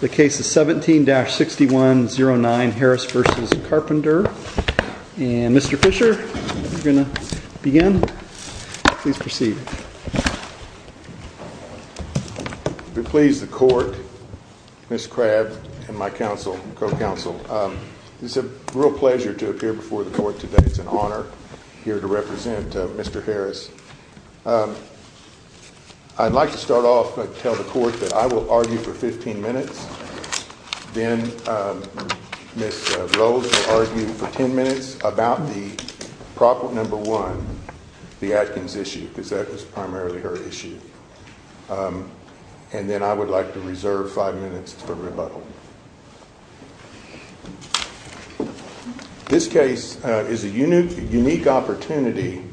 The case is 17-6109 Harris v. Carpenter, and Mr. Fisher, you're going to begin. Please proceed. I'm pleased to court, Ms. Crabb, and my counsel, co-counsel. It's a real pleasure to appear before the court today. It's an honor here to represent Mr. Harris. I'd like to start off by telling the court that I will argue for 15 minutes, then Ms. Rhodes will argue for 10 minutes about the problem number one, the Atkins issue, because that was primarily her issue. And then I would like to reserve five minutes for rebuttal. This case is a unique opportunity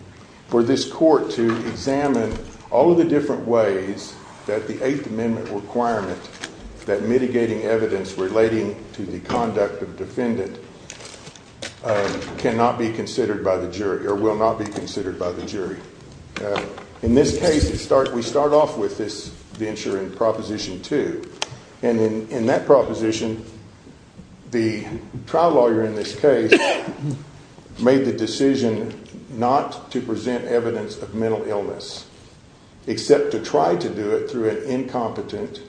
for this court to examine all of the different ways that the Eighth Amendment requirement that mitigating evidence relating to the conduct of defendants cannot be considered by the jury or will not be considered by the jury. In this case, we start off with this venture in Proposition 2, and in that proposition, the trial lawyer in this case made the decision not to present evidence of mental illness, except to try to do it through an incompetent,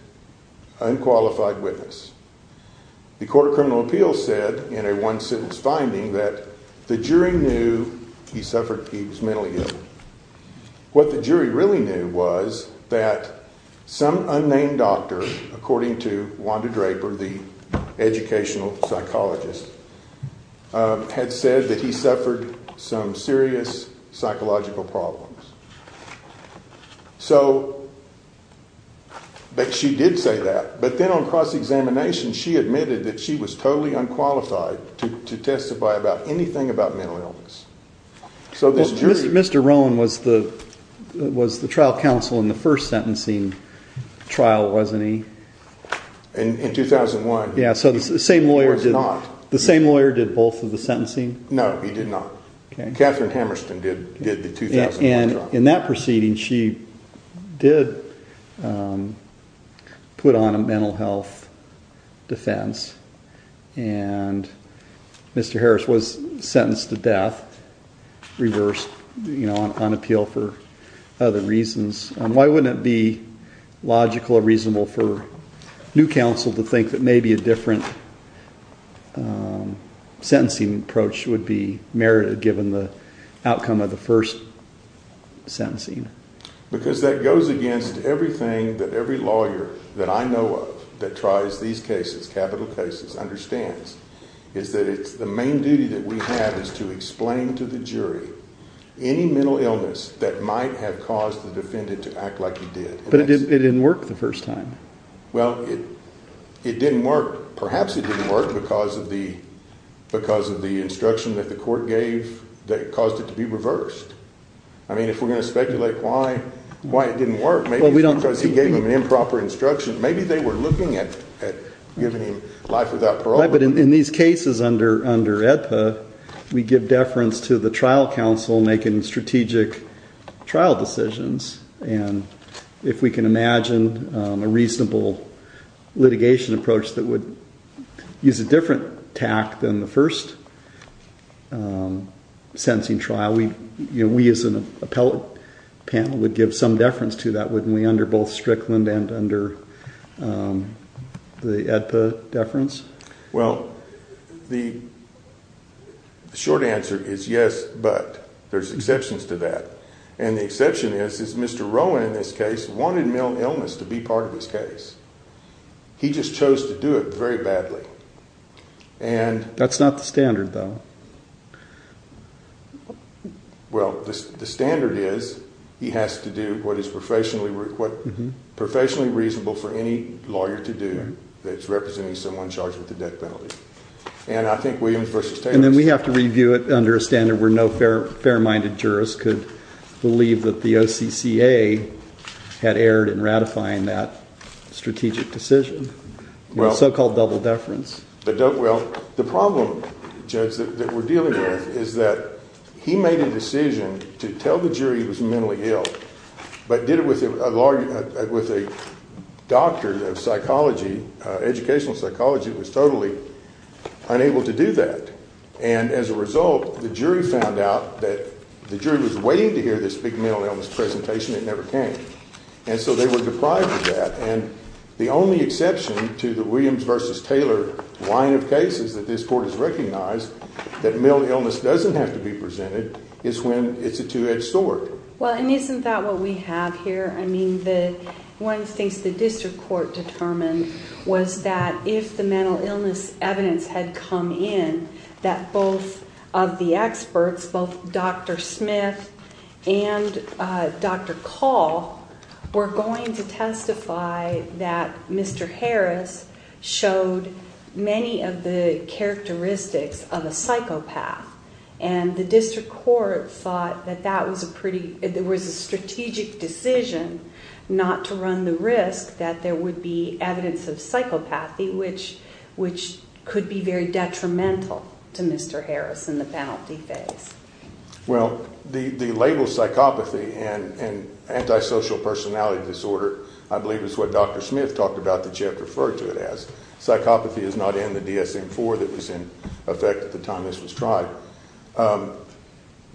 unqualified witness. The court of criminal appeals said in a one sentence finding that the jury knew he suffered mental illness. What the jury really knew was that some unnamed doctor, according to Wanda Draper, the educational psychologist, had said that he suffered some serious psychological problems. But she did say that. But then on cross-examination, she admitted that she was totally unqualified to testify about anything about mental illness. Mr. Rowan was the trial counsel in the first sentencing trial, wasn't he? In 2001. Yeah, so the same lawyer did both of the sentencing? No, he did not. Catherine Hammerston did the 2001 trial. In that proceeding, she did put on a mental health defense, and Mr. Harris was sentenced to death, reversed on appeal for other reasons. Why wouldn't it be logical or reasonable for new counsel to think that maybe a different sentencing approach would be merited, given the outcome of the first sentencing? Because that goes against everything that every lawyer that I know of that tries these cases, capital cases, understands. The main duty that we have is to explain to the jury any mental illness that might have caused the defendant to act like he did. But it didn't work the first time. Well, it didn't work. Perhaps it didn't work because of the instruction that the court gave that caused it to be reversed. I mean, if we're going to speculate why it didn't work, maybe because he gave them an improper instruction. Maybe they were looking at giving him life without parole. But in these cases under AEDPA, we give deference to the trial counsel making strategic trial decisions. And if we can imagine a reasonable litigation approach that would use a different tact than the first sentencing trial, we as an appellate panel would give some deference to that, wouldn't we, under both strict and under the AEDPA deference? Well, the short answer is yes, but. There's exceptions to that. And the exception is Mr. Rowland, in this case, wanted mental illness to be part of his case. He just chose to do it very badly. That's not the standard, though. Well, the standard is he has to do what is professionally reasonable for any lawyer to do. That's representing someone charged with a death penalty. And I think Williams v. Taylor. And then we have to review it under a standard where no fair-minded jurist could believe that the OCCA had erred in ratifying that strategic decision. The so-called double deference. Well, the problem, Judge, that we're dealing with is that he made a decision to tell the jury he was mentally ill, but did it with a doctor of psychology. Educational psychology was totally unable to do that. And as a result, the jury found out that the jury was waiting to hear this big mental illness presentation. It never came. And so they were deprived of that. And the only exception to the Williams v. Taylor line of cases that this Court has recognized, that mental illness doesn't have to be presented, is when it's a two-edged sword. Well, and isn't that what we have here? I mean, one thing the District Court determined was that if the mental illness evidence had come in, that both of the experts, both Dr. Smith and Dr. Call, were going to testify that Mr. Harris showed many of the characteristics of a psychopath. And the District Court thought that there was a strategic decision not to run the risk that there would be evidence of psychopathy, which could be very detrimental to Mr. Harris in the penalty phase. Well, the label psychopathy and antisocial personality disorder, I believe is what Dr. Smith talked about that Jeff referred to it as. Psychopathy is not in the DSM-IV that was in effect at the time this was tried.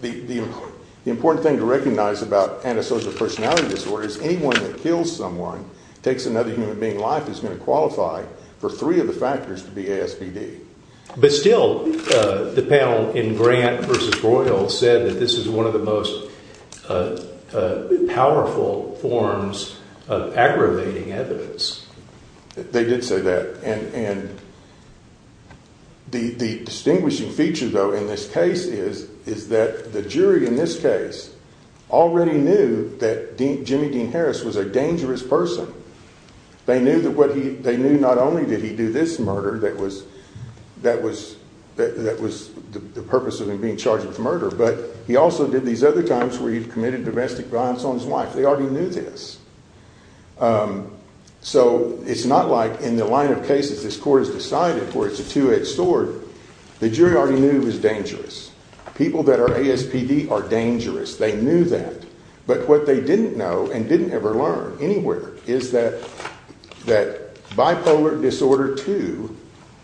The important thing to recognize about antisocial personality disorder is anyone that kills someone, takes another human being's life, is going to qualify for three of the factors to be ASPD. But still, the panel in Grant v. Boyle said that this is one of the most powerful forms of aggravating evidence. They did say that. And the distinguishing feature, though, in this case is that the jury in this case already knew that Jimmy Dean Harris was a dangerous person. They knew not only did he do this murder that was the purpose of him being charged with murder, but he also did these other times where he committed domestic violence on his wife. They already knew this. So it's not like in the line of cases this court has decided for it's a two-edged sword. The jury already knew he was dangerous. People that are ASPD are dangerous. They knew that. But what they didn't know and didn't ever learn anywhere is that bipolar disorder II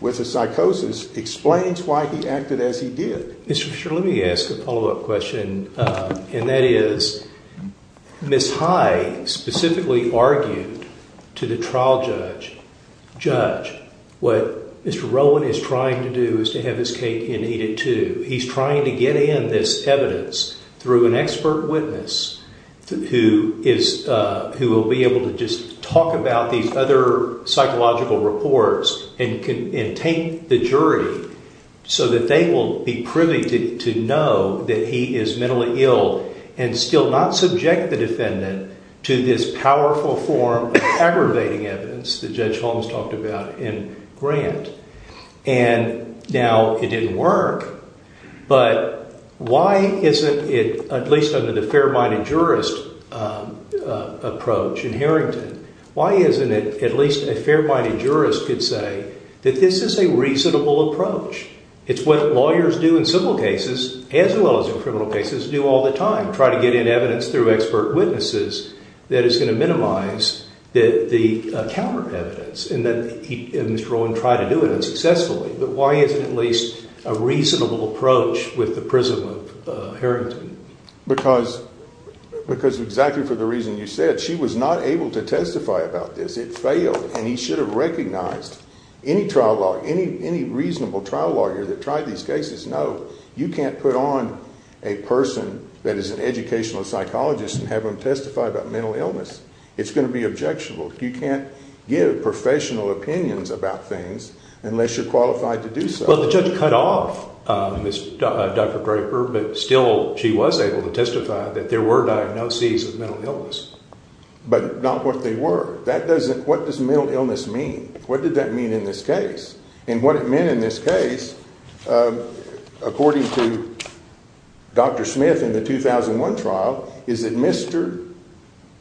with a psychosis explains why he acted as he did. Let me ask a follow-up question, and that is, Ms. Hyde specifically argued to the trial judge, what Mr. Rowan is trying to do is to have this case conceded to. He's trying to get in this evidence through an expert witness who will be able to just talk about these other psychological reports and take the jury so that they will be privy to know that he is mentally ill and still not subject the defendant to this powerful form of aggravating evidence that Judge Holmes talked about in Grant. And now it didn't work. But why isn't it, at least under the fair-minded jurist approach in Harrington, why isn't it at least a fair-minded jurist could say that this is a reasonable approach? It's what lawyers do in civil cases, as well as in criminal cases, do all the time, try to get in evidence through expert witnesses that is going to minimize the counter evidence. And Mr. Rowan tried to do it unsuccessfully. But why isn't it at least a reasonable approach with the prism of Harrington? Because exactly for the reason you said, she was not able to testify about this. And he should have recognized any reasonable trial lawyer that tried these cases knows you can't put on a person that is an educational psychologist and have them testify about mental illness. It's going to be objectionable. You can't give professional opinions about things unless you're qualified to do so. Well, the judge cut off Dr. Graper, but still she was able to testify that there were diagnoses of mental illness. But not what they were. What does mental illness mean? What did that mean in this case? And what it meant in this case, according to Dr. Smith in the 2001 trial, is that Mr.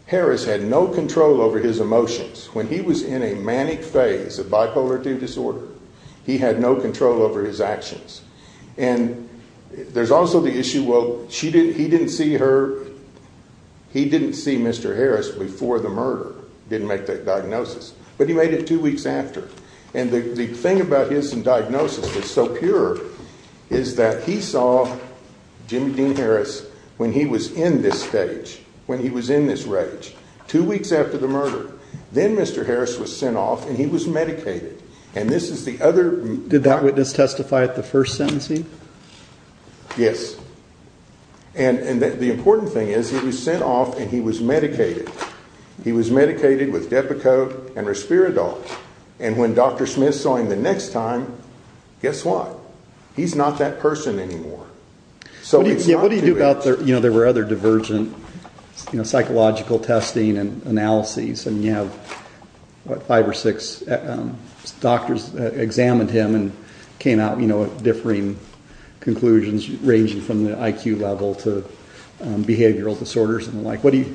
Harris had no control over his emotions. When he was in a manic phase of bipolar II disorder, he had no control over his actions. And there's also the issue, well, he didn't see her, he didn't see Mr. Harris before the murder. Didn't make that diagnosis. But he made it two weeks after. And the thing about his diagnosis that's so pure is that he saw Jimmy Dean Harris when he was in this stage. When he was in this rage. Two weeks after the murder. Then Mr. Harris was sent off and he was medicated. Did Dr. Smith testify at the first sentencing? Yes. And the important thing is that he was sent off and he was medicated. He was medicated with Depakote and Respiradol. And when Dr. Smith saw him the next time, guess what? He's not that person anymore. What do you do about, you know, there were other divergent psychological testing and analyses. You have five or six doctors examined him and came out with differing conclusions, ranging from the IQ level to behavioral disorders and the like. What do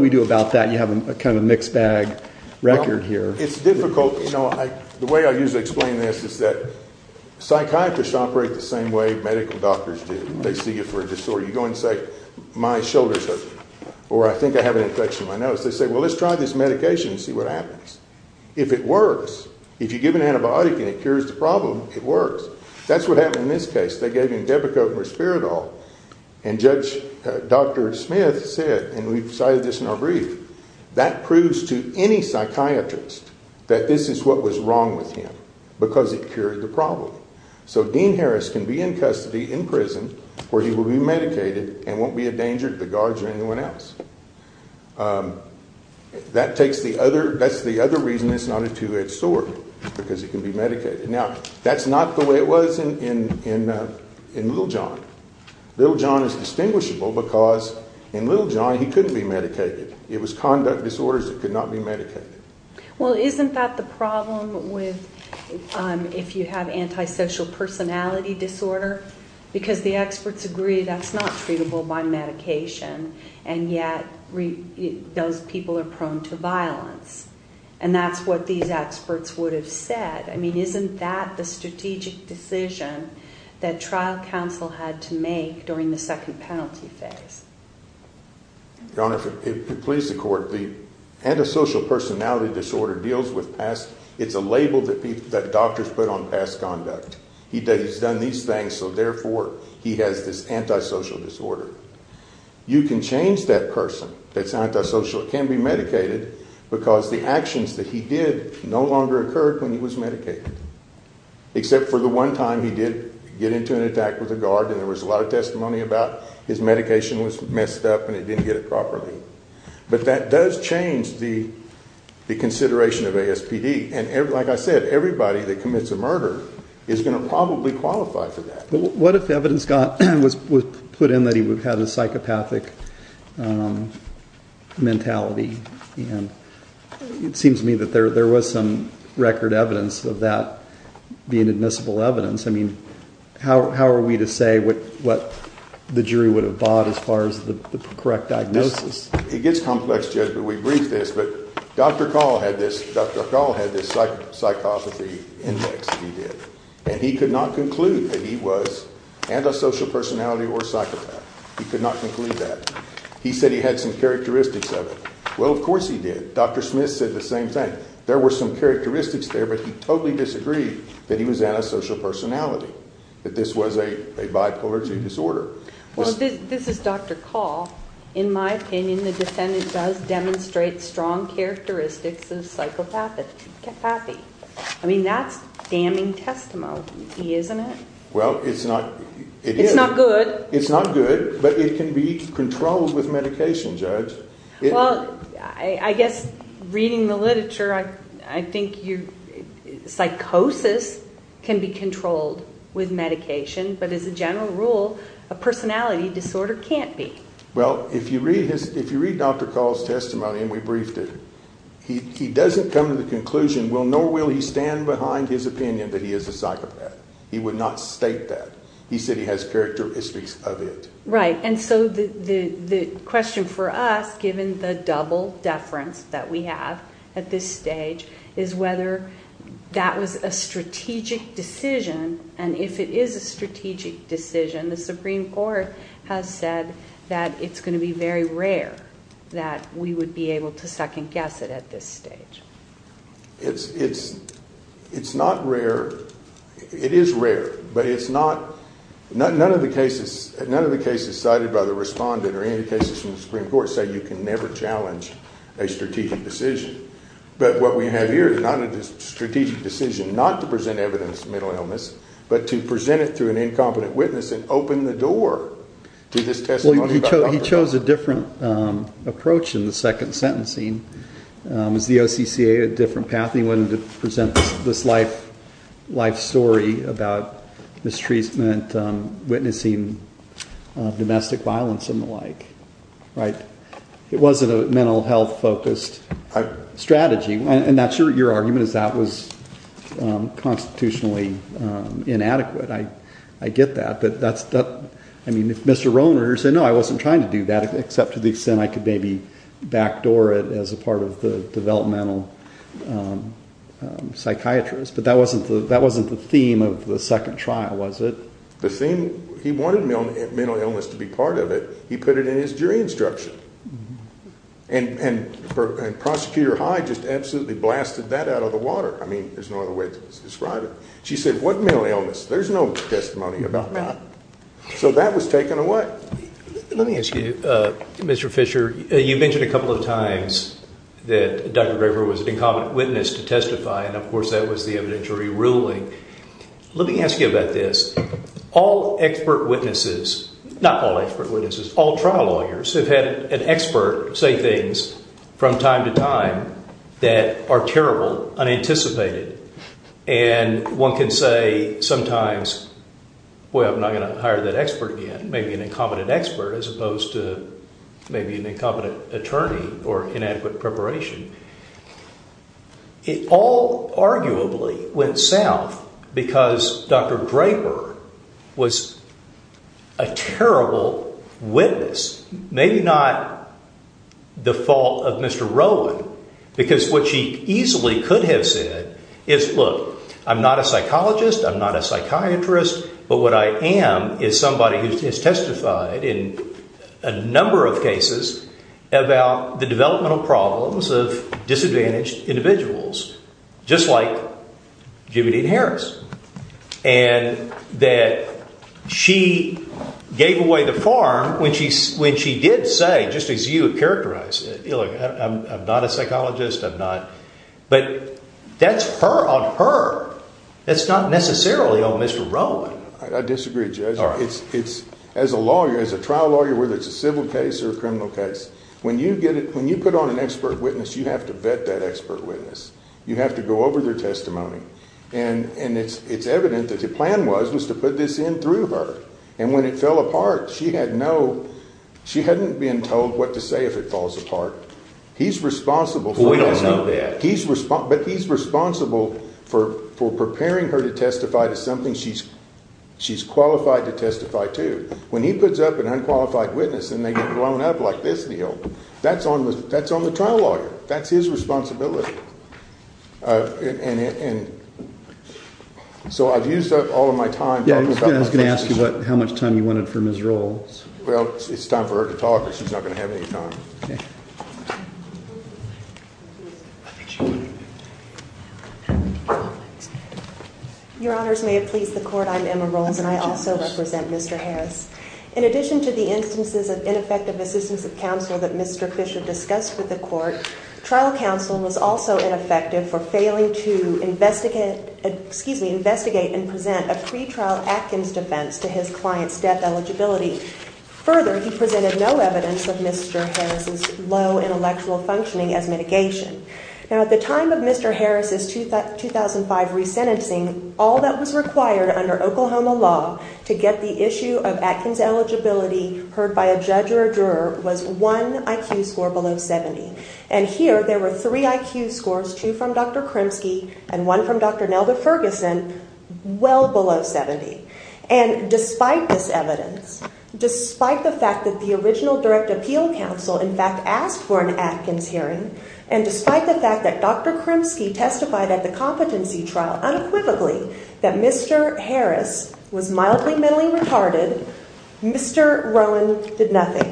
we do about that? You have a kind of mixed bag record here. It's difficult. You know, the way I usually explain this is that psychiatrists operate the same way medical doctors do. They see you for a disorder. You go and say, my shoulder's hurting. Or I think I have an infection in my nose. They say, well, let's try this medication and see what happens. If it works, if you give an antibiotic and it cures the problem, it works. That's what happened in this case. They gave him Depakote and Respiradol. And Judge Dr. Smith said, and we cited this in our brief, that proves to any psychiatrist that this is what was wrong with him because it cured the problem. So Dean Harris can be in custody in prison where he will be medicated and won't be a danger to the guards or anyone else. That's the other reason it's not a two-edged sword, because it can be medicated. Now, that's not the way it was in Little John. Little John is distinguishable because in Little John he couldn't be medicated. It was conduct disorders that could not be medicated. Well, isn't that the problem with if you have antisocial personality disorder? Because the experts agree that's not treatable by medication, and yet those people are prone to violence. And that's what these experts would have said. I mean, isn't that the strategic decision that trial counsel had to make during the second penalty phase? Your Honor, if it pleases the Court, the antisocial personality disorder deals with past, it's a label that doctors put on past conduct. He says he's done these things, so therefore he has this antisocial disorder. You can change that person that's antisocial. It can be medicated because the actions that he did no longer occurred when he was medicated, except for the one time he did get into an attack with a guard and there was a lot of testimony about his medication was messed up and he didn't get it properly. But that does change the consideration of ASPD, and like I said, everybody that commits a murder is going to probably qualify for that. What if the evidence was put in that he had a psychopathic mentality? It seems to me that there was some record evidence of that being admissible evidence. I mean, how are we to say what the jury would have bought as far as the correct diagnosis? It gets complex, Judge, but we briefed this. But Dr. Call had this psychopathy index that he did, and he could not conclude that he was antisocial personality or psychopath. He could not conclude that. He said he had some characteristics of it. Well, of course he did. Dr. Smith said the same thing. There were some characteristics there, but he totally disagreed that he was antisocial personality, that this was a bipolar II disorder. Well, this is Dr. Call. In my opinion, the defendant does demonstrate strong characteristics of psychopathy. I mean, that's damning testimony, isn't it? Well, it's not. It's not good. It's not good, but it can be controlled with medication, Judge. Well, I guess reading the literature, I think psychosis can be controlled with medication, but as a general rule, a personality disorder can't be. Well, if you read Dr. Call's testimony and we briefed it, he doesn't come to the conclusion, nor will he stand behind his opinion that he is a psychopath. He would not state that. He said he has characteristics of it. Right, and so the question for us, given the double deference that we have at this stage, is whether that was a strategic decision, and if it is a strategic decision, the Supreme Court has said that it's going to be very rare that we would be able to second-guess it at this stage. It's not rare. It is rare, but none of the cases cited by the respondent or any cases from the Supreme Court say you can never challenge a strategic decision. But what we have here is not a strategic decision not to present evidence of mental illness, but to present it to an incompetent witness and open the door to this testimony. He chose a different approach in the second sentencing. The OCCA had a different path. He wanted to present this life story about mistreatment, witnessing domestic violence, and the like. It wasn't a mental health-focused strategy. And I'm sure your argument is that was constitutionally inadequate. I get that. Mr. Rohner said, no, I wasn't trying to do that, except to the extent I could maybe backdoor it as a part of the developmental psychiatrist. But that wasn't the theme of the second trial, was it? The theme, he wanted mental illness to be part of it. He put it in his jury instruction. And Prosecutor Hyde just absolutely blasted that out of the water. I mean, there's no other way to describe it. She said, what mental illness? There's no testimony about that. So that was taken away. Let me ask you, Mr. Fisher, you mentioned a couple of times that Dr. Graver was an incompetent witness to testify, and, of course, that was the evidentiary ruling. Let me ask you about this. All expert witnesses, not all expert witnesses, all trial lawyers have had an expert say things from time to time that are terrible, unanticipated. And one can say sometimes, well, I'm not going to hire that expert again, maybe an incompetent expert, as opposed to maybe an incompetent attorney or inadequate preparation. It all arguably went south because Dr. Graver was a terrible witness, maybe not the fault of Mr. Rowan, because what she easily could have said is, look, I'm not a psychologist, I'm not a psychiatrist, but what I am is somebody who has testified in a number of cases about the developmental problems of disadvantaged individuals, just like Jimmie Dean Harris, and that she gave away the form when she did say, just as you have characterized it, look, I'm not a psychologist, I'm not, but that's her on her. That's not necessarily on Mr. Rowan. I disagree with you. All right. As a lawyer, as a trial lawyer, whether it's a civil case or a criminal case, when you put on an expert witness, you have to vet that expert witness. You have to go over their testimony, and it's evident that the plan was to put this in through her, and when it fell apart, she had no, she hadn't been told what to say if it falls apart. He's responsible for that. Well, we don't know that. But he's responsible for preparing her to testify to something she's qualified to testify to. When he puts up an unqualified witness and they get blown up like this deal, that's on the trial lawyer. That's his responsibility. And so I've used up all of my time. Yeah, I was going to ask you about how much time you wanted from Ms. Rowan. Well, it's time for her to talk. She's not going to have any time. Your Honors, may it please the Court, I'm Emma Rowan, and I also represent Mr. Harris. In addition to the instances of ineffective assistance of counsel that Mr. Fisher discussed with the Court, trial counsel was also ineffective for failing to investigate and present a pretrial Atkins defense to his client's death eligibility. Further, he presented no evidence with Mr. Harris. Now, at the time of Mr. Harris's 2005 resentencing, all that was required under Oklahoma law to get the issue of Atkins eligibility heard by a judge or a juror was one IQ score below 70. And here there were three IQ scores, two from Dr. Kremski and one from Dr. Nelda Ferguson, well below 70. And despite this evidence, despite the fact that the original direct appeal counsel, in fact, asked for an Atkins hearing, and despite the fact that Dr. Kremski testified at the competency trial unequivocally that Mr. Harris was mildly mentally retarded, Mr. Rowan did nothing.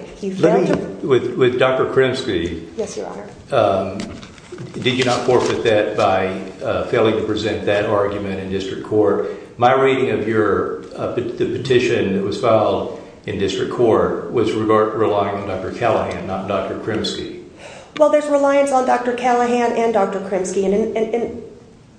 With Dr. Kremski, did you not forfeit that by failing to present that argument in district court? My reading of your petition that was filed in district court was reliant on Dr. Callahan, not Dr. Kremski. Well, there's reliance on Dr. Callahan and Dr. Kremski, and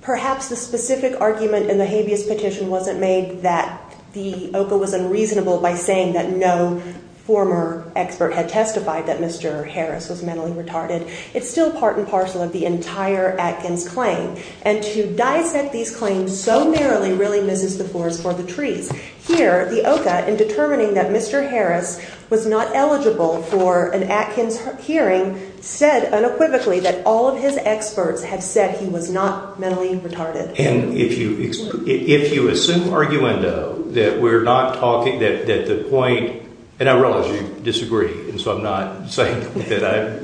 perhaps the specific argument in the habeas petition wasn't made that the OCA was unreasonable by saying that no former expert had testified that Mr. Harris was mentally retarded. It's still part and parcel of the entire Atkins claim. And to dissect these claims so narrowly really misses the board for the truth. Here, the OCA, in determining that Mr. Harris was not eligible for an Atkins hearing, said unequivocally that all of his experts had said he was not mentally retarded. And if you assume argument, though, that we're not talking, that the point, and I realize you disagree, and so I'm not saying that I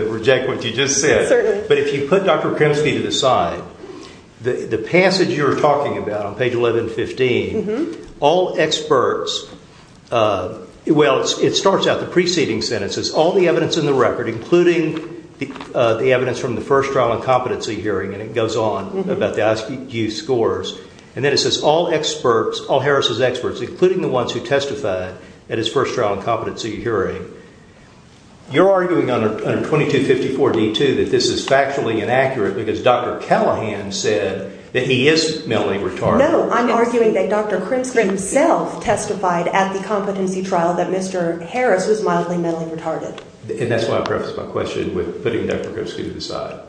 reject what you just said, but if you put Dr. Kremski to the side, the passage you're talking about on page 1115, all experts, well, it starts out the preceding sentence. It says all the evidence in the record, including the evidence from the first trial incompetency hearing, and it goes on about the IQ scores, and then it says all experts, all Harris' experts, including the ones who testified at his first trial incompetency hearing. You're arguing under 2254d2 that this is factually inaccurate because Dr. Callahan said that he is mentally retarded. No, I'm arguing that Dr. Kremski himself testified at the competency trial that Mr. Harris was mildly mentally retarded. And that's why I preface my question with putting Dr. Kremski to the side.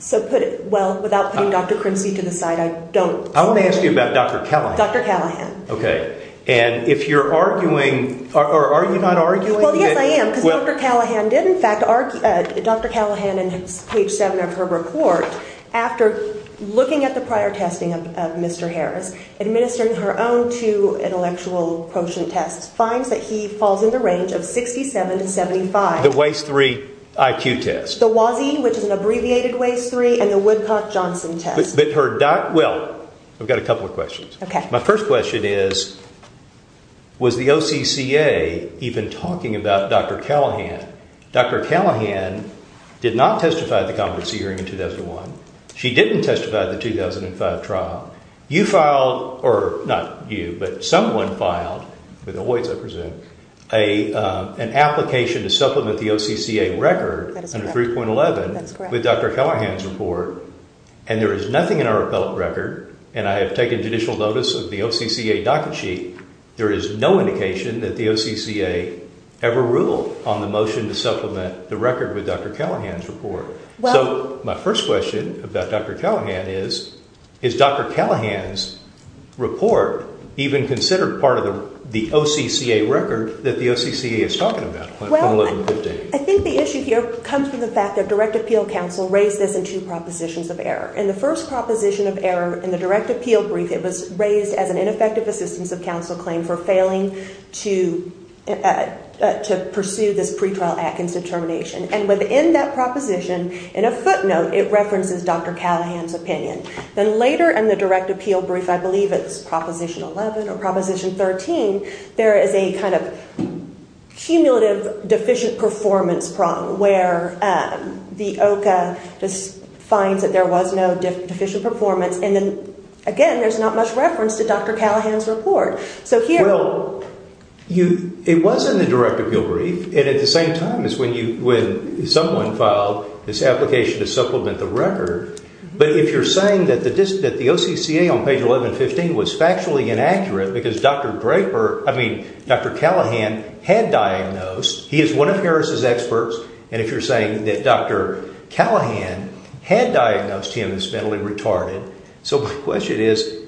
So put it, well, without putting Dr. Kremski to the side, I don't. I want to ask you about Dr. Callahan. Dr. Callahan. Okay. And if you're arguing, or are you not arguing? Well, yes, I am, because Dr. Callahan did, in fact, Dr. Callahan in page 7 of her report, after looking at the prior testing of Mr. Harris, administering her own two intellectual quotient tests, finds that he falls in the range of 6,775. The WAIS-III IQ test. The WASI, which is an abbreviated WAIS-III, and the Woodcock-Johnson test. But her, well, I've got a couple of questions. Okay. My first question is, was the OCCA even talking about Dr. Callahan? Dr. Callahan did not testify at the competency hearing in 2001. She didn't testify at the 2005 trial. You filed, or not you, but someone filed with the WAIS, I presume, an application to supplement the OCCA record under 3.11 with Dr. Callahan's report, and there is nothing in our appellate record, and I have taken judicial notice of the OCCA docket sheet, there is no indication that the OCCA ever ruled on the motion to supplement the record with Dr. Callahan's report. So my first question about Dr. Callahan is, is Dr. Callahan's report even considered part of the OCCA record that the OCCA is talking about? Well, I think the issue here comes from the fact that direct appeal counsel raised this in two propositions of error. In the first proposition of error, in the direct appeal brief, it was raised as an ineffective assistance of counsel claim for failing to pursue this pretrial action determination. And within that proposition, in a footnote, it references Dr. Callahan's opinion. Then later in the direct appeal brief, I believe it's Proposition 11 or Proposition 13, there is a kind of cumulative deficient performance problem where the OCCA finds that there was no deficient performance, and then again, there's not much reference to Dr. Callahan's report. So here... It was in the direct appeal brief, and at the same time as when someone filed this application to supplement the record, but if you're saying that the OCCA on page 1115 was factually inaccurate because Dr. Callahan had diagnosed, he is one of Harris' experts, and if you're saying that Dr. Callahan had diagnosed him as mentally retarded, so my question is,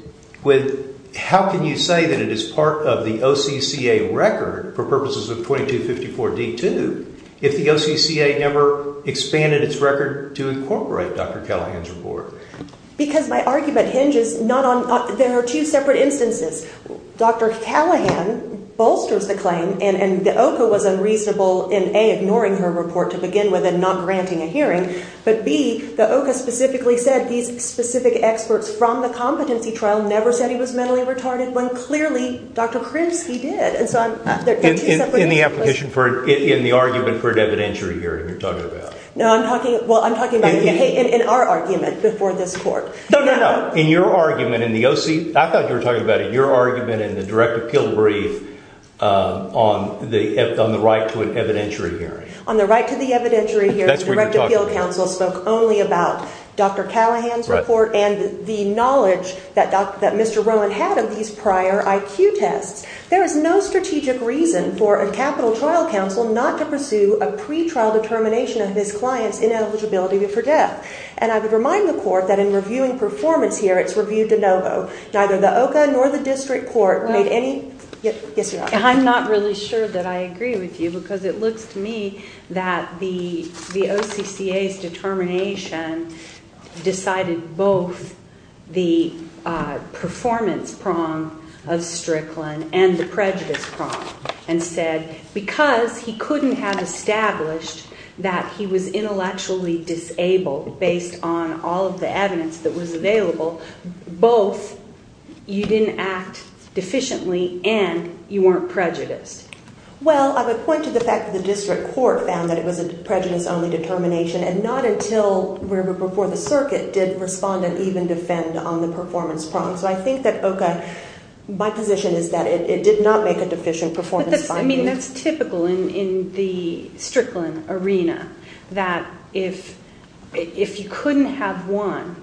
how can you say that it is part of the OCCA record for purposes of 2254D2 if the OCCA never expanded its record to incorporate Dr. Callahan's report? Because my argument hinges not on... There are two separate instances. Dr. Callahan bolsters the claim, and the OCCA was unreasonable in A, ignoring her report to begin with and not granting a hearing, but B, the OCCA specifically said these specific experts from the competency trial never said he was mentally retarded, when clearly Dr. Krinsky did. In the argument for an evidentiary hearing you're talking about? Well, I'm talking about in our argument before this court. No, no, no. In your argument in the OCCA? I thought you were talking about your argument in the direct appeal brief on the right to an evidentiary hearing. On the right to the evidentiary hearing, the direct appeal counsel spoke only about Dr. Callahan's report and the knowledge that Mr. Rowan had of these prior IQ tests. There is no strategic reason for a capital trial counsel not to pursue a pre-trial determination of his client's inability to forget. And I would remind the court that in reviewing performance here, it's reviewed to no vote. Neither the OCA nor the district court made any... I'm not really sure that I agree with you because it looks to me that the OCCA's determination decided both the performance prong of Strickland and the prejudice prong and said because he couldn't have established that he was intellectually disabled based on all of the evidence that was available, both you didn't act deficiently and you weren't prejudiced. Well, I would point to the fact that the district court found that it was a prejudice-only determination and not until we were before the circuit did the respondent even defend on the performance prong. So I think that OCA, my position is that it did not make a deficient performance finding. I mean, that's typical in the Strickland arena, that if you couldn't have won,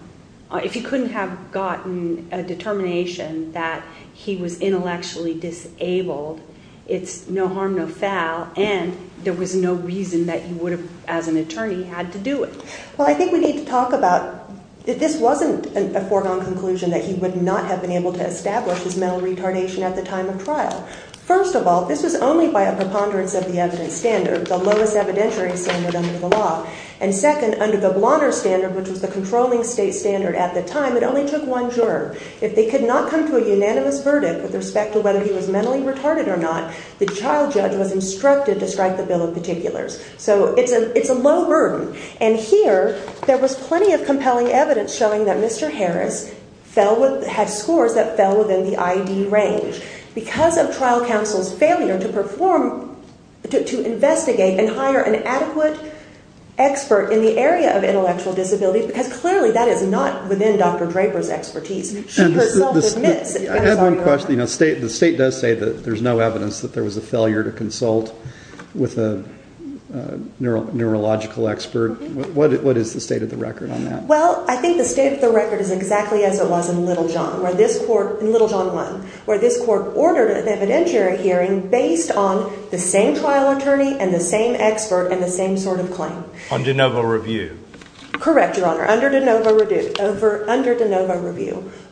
if you couldn't have gotten a determination that he was intellectually disabled, it's no harm, no foul, and there was no reason that you would have, as an attorney, had to do it. Well, I think we need to talk about that this wasn't a foregone conclusion that he would not have been able to establish his mental retardation at the time of trial. First of all, this is only by a preponderance of the evidence standard, the lowest evidentiary standard under the law. And second, under the blotter standard, which is the controlling state standard at the time, it only took one juror. If they could not come to a unanimous verdict with respect to whether he was mentally retarded or not, the trial judge was instructed to strike the bill of particulars. So it's a low burden. And here, there was plenty of compelling evidence showing that Mr. Harris had scores that fell within the IED range. Because of trial counsel's failure to perform, to investigate and hire an adequate expert in the area of intellectual disability, because clearly that is not within Dr. Draper's expertise. I have one question. The state does say that there's no evidence that there was a failure to consult with a neurological expert. What is the state of the record on that? Well, I think the state of the record is exactly as it was in Littlejohn, in Littlejohn 1, where this court ordered an evidentiary hearing based on the same trial attorney and the same expert and the same sort of claim. Under de novo review. Correct, Your Honor. Under de novo review.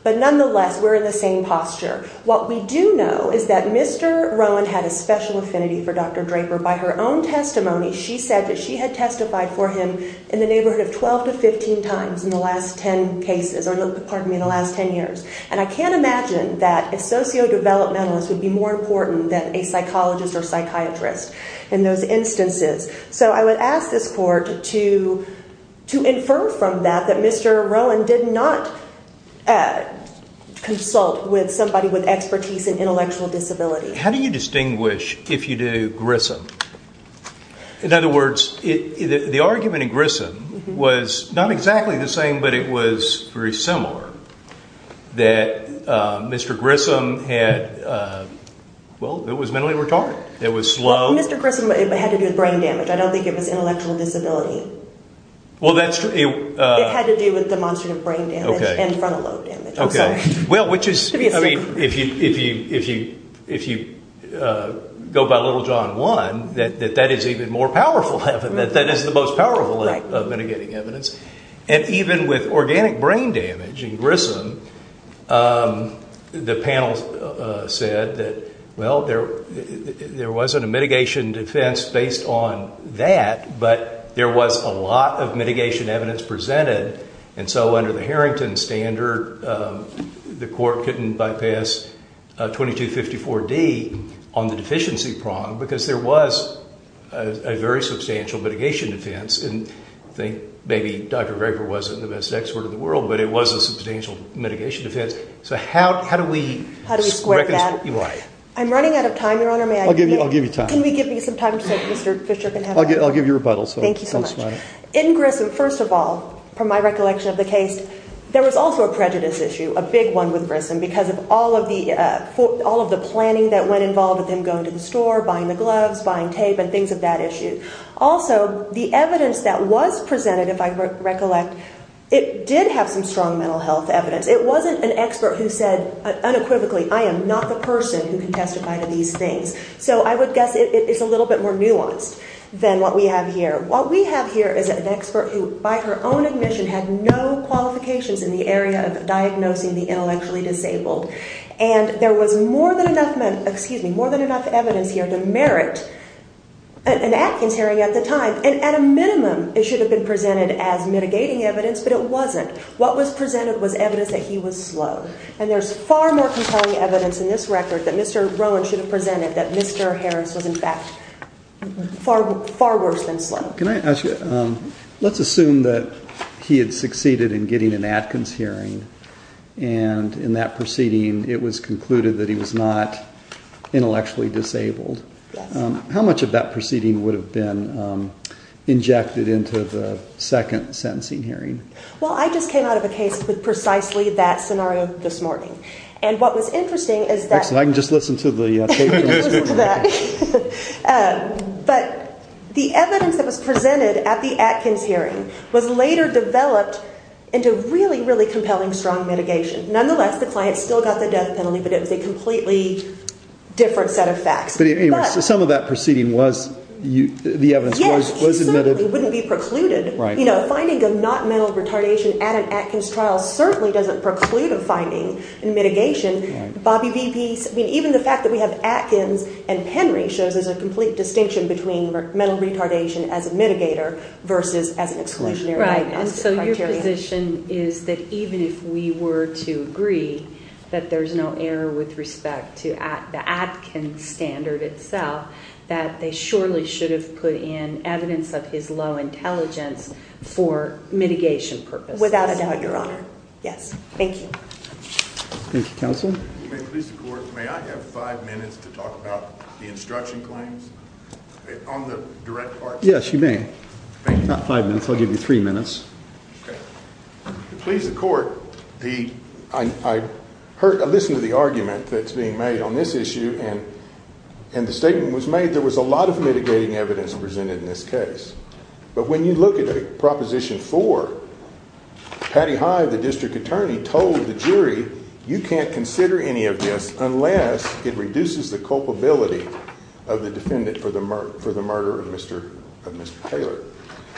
But nonetheless, we're in the same posture. What we do know is that Mr. Rowan had a special affinity for Dr. Draper. By her own testimony, she said that she had testified for him in the neighborhood 12 to 15 times in the last 10 years. And I can't imagine that a socio-developmentalist would be more important than a psychologist or psychiatrist in those instances. So I would ask this court to infer from that that Mr. Rowan did not consult with somebody with expertise in intellectual disability. How do you distinguish if you do Grissom? In other words, the argument in Grissom was not exactly the same, but it was very similar. That Mr. Grissom had, well, it was mentally retarded. It was slow. Mr. Grissom had to do with brain damage. I don't think it was intellectual disability. It had to do with demonstrative brain damage and frontal lobe damage. Well, which is, if you go by Little John One, that is even more powerful evidence. That is the most powerful of mitigating evidence. And even with organic brain damage in Grissom, the panel said that, well, there wasn't a mitigation defense based on that, but there was a lot of mitigation evidence presented. And so under the Harrington standard, the court couldn't bypass 2254D on the deficiency prong, because there was a very substantial mitigation defense. And maybe Dr. Graeber wasn't the best expert in the world, but it was a substantial mitigation defense. So how do we reconcile that? I'm running out of time, Your Honor. I'll give you time. Can we give you some time so Mr. Fischer can have it? I'll give you rebuttal. Thank you so much. In Grissom, first of all, from my recollection of the case, there was also a prejudice issue, a big one with Grissom, because of all of the planning that went involved with him going to the store, buying the gloves, buying tape, and things of that issue. Also, the evidence that was presented, if I recollect, it did have some strong mental health evidence. It wasn't an expert who said unequivocally, I am not the person who can testify to these things. So I would guess it's a little bit more nuanced than what we have here. What we have here is an expert who, by her own admission, has no qualifications in the area of diagnosing the intellectually disabled. And there was more than enough evidence here to merit an absentiary at the time. And at a minimum, it should have been presented as mitigating evidence, but it wasn't. What was presented was evidence that he was slow. And there's far more compelling evidence in this record that Mr. Rohn should have presented that Mr. Harris was, in fact, far worse than slow. Can I ask you, let's assume that he had succeeded in getting an Atkins hearing, and in that proceeding it was concluded that he was not intellectually disabled. How much of that proceeding would have been injected into the second sentencing hearing? Well, I just came out of a case with precisely that scenario this morning. And what was interesting is that- But the evidence that was presented at the Atkins hearing was later developed into really, really compelling, strong mitigation. Nonetheless, the client still got the death penalty, but it was a completely different set of facts. But anyway, so some of that proceeding was, the evidence was- Yes, but it wouldn't be precluded. You know, finding a not mental retardation at an Atkins trial certainly doesn't preclude a finding in mitigation. Even the fact that we have Atkins and Henry shows there's a complete distinction between mental retardation as a mitigator versus evidence- Right, and so your position is that even if we were to agree that there's no error with respect to the Atkins standard itself, that they surely should have put in evidence of his low intelligence for mitigation purposes. Without a doubt, Your Honor. Yes. Thank you. Thank you, counsel. If you may please accord, may I have five minutes to talk about the instruction points on the direct part? Yes, you may. Thank you. Not five minutes, I'll give you three minutes. Okay. If you please accord, I listened to the argument that's being made on this issue, and the statement was made there was a lot of mitigating evidence presented in this case. But when you look at Proposition 4, Patty High, the district attorney, told the jury, you can't consider any of this unless it reduces the culpability of the defendant for the murder of Mr. Taylor.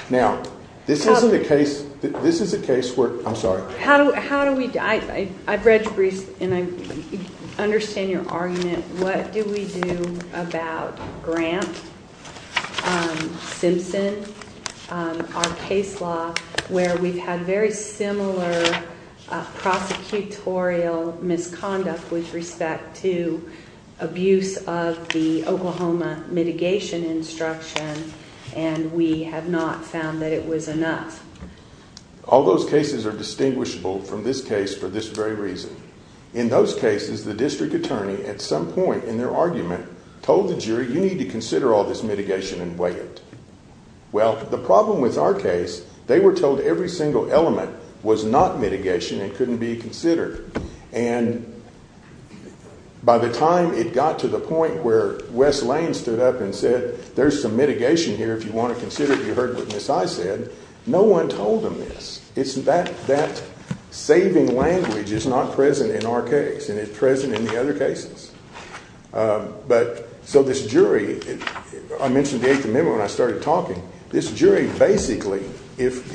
Now, this is a case where- I'm sorry. How do we- I've read the brief, and I understand your argument. What do we do about Grant Simpson, our case law, where we have very similar prosecutorial misconduct with respect to abuse of the Oklahoma mitigation instruction, and we have not found that it was enough? All those cases are distinguishable from this case for this very reason. In those cases, the district attorney, at some point in their argument, told the jury, you need to consider all this mitigation and weigh it. Well, the problem with our case, they were told every single element was not mitigation and couldn't be considered. And by the time it got to the point where Wes Lane stood up and said, there's some mitigation here if you want to consider it, you heard what Ms. I said, no one told them this. That saving language is not present in our case, and it's present in the other cases. So this jury- I mentioned the 8th Amendment when I started talking. This jury basically, if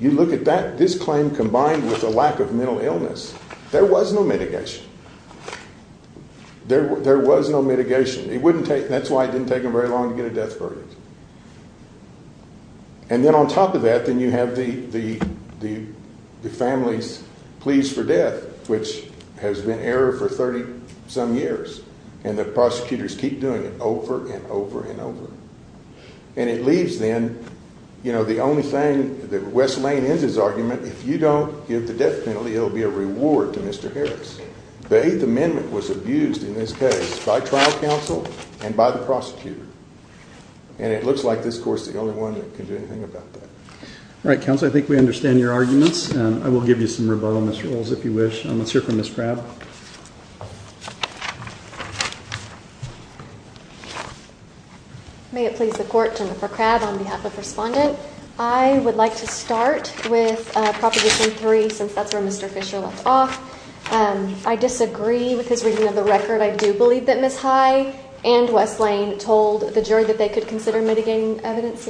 you look at that, this claim combined with a lack of mental illness, there was no mitigation. There was no mitigation. That's why it didn't take them very long to get a death sentence. And then on top of that, then you have the family's pleas for death, which has been error for 30-some years, and the prosecutors keep doing it over and over and over. And it leaves them, you know, the only thing that Wes Lane ends his argument, if you don't give the death penalty, it will be a reward to Mr. Harris. The 8th Amendment was abused in this case by trial counsel and by the prosecutor. And it looks like this court's the only one that can do anything about that. All right, counsel, I think we understand your arguments, and I will give you some rebuttal, Ms. Rolls, if you wish. Let's hear from Ms. Crabb. May it please the court, Senator Crabb, on behalf of the respondents, I would like to start with Proposition 3, since that's where Mr. Fisher left off. I disagree with his reading of the record. I do believe that Natai and Wes Lane told the jury that they could consider mitigating evidence.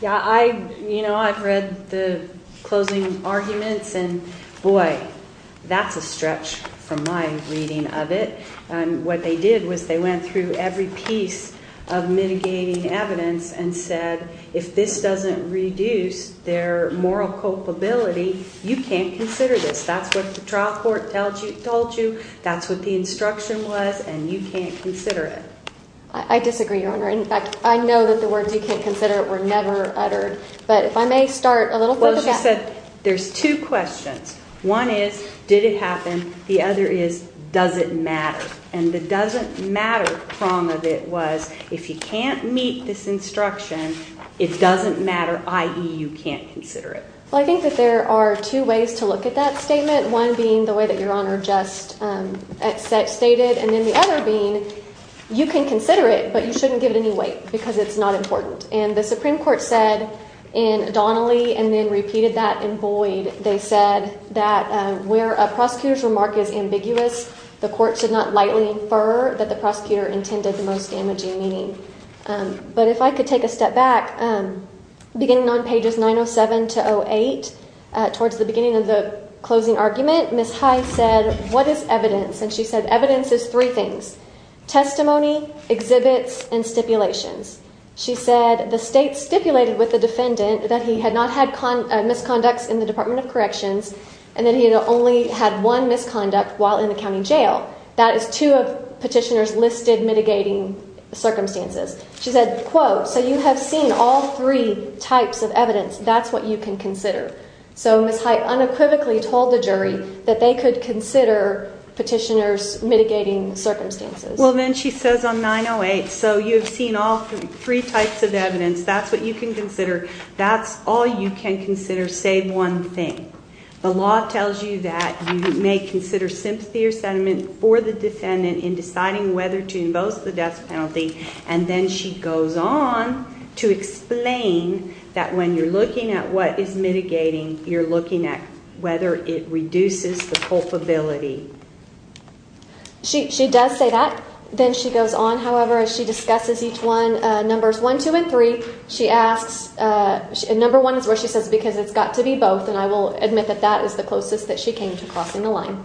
Yeah, I, you know, I've read the closing arguments, and boy, that's a stretch from my reading of it. And what they did was they went through every piece of mitigating evidence and said, if this doesn't reduce their moral culpability, you can't consider this. That's what the trial court told you, that's what the instruction was, and you can't consider it. I disagree, Your Honor. In fact, I know that the words, you can't consider it, were never uttered. But if I may start a little further back. There's two questions. One is, did it happen? The other is, does it matter? And the doesn't matter form of it was, if you can't meet this instruction, it doesn't matter, i.e., you can't consider it. Well, I think that there are two ways to look at that statement, one being the way that Your Honor just stated, and then the other being, you can consider it, but you shouldn't give it any weight, because it's not important. And the Supreme Court said in Donnelly, and then repeated that in Boyd, they said that where a prosecutor's remark is ambiguous, the court could not lightly infer that the prosecutor intended the most damaging meaning. But if I could take a step back, beginning on pages 907 to 08, towards the beginning of the closing argument, Ms. High said, what is evidence? And she said, evidence is three things. Testimony, exhibits, and stipulations. She said, the state stipulated with the defendant that he had not had misconduct in the Department of Corrections, and that he had only had one misconduct while in the county jail. That is two of Petitioner's listed mitigating circumstances. She said, quote, so you have seen all three types of evidence, that's what you can consider. So Ms. High unequivocally told the jury that they could consider Petitioner's mitigating circumstances. Well, then she says on 908, so you have seen all three types of evidence, that's what you can consider. That's all you can consider, say one thing. The law tells you that you may consider sympathy or sentiment for the defendant in deciding whether to invoke the death penalty. And then she goes on to explain that when you're looking at what is mitigating, you're looking at whether it reduces the culpability. She does say that. Then she goes on, however, and she discusses each one, numbers one, two, and three. She asks, number one is where she says, because it's got to be both, and I will admit that that is the closest that she came to crossing the line.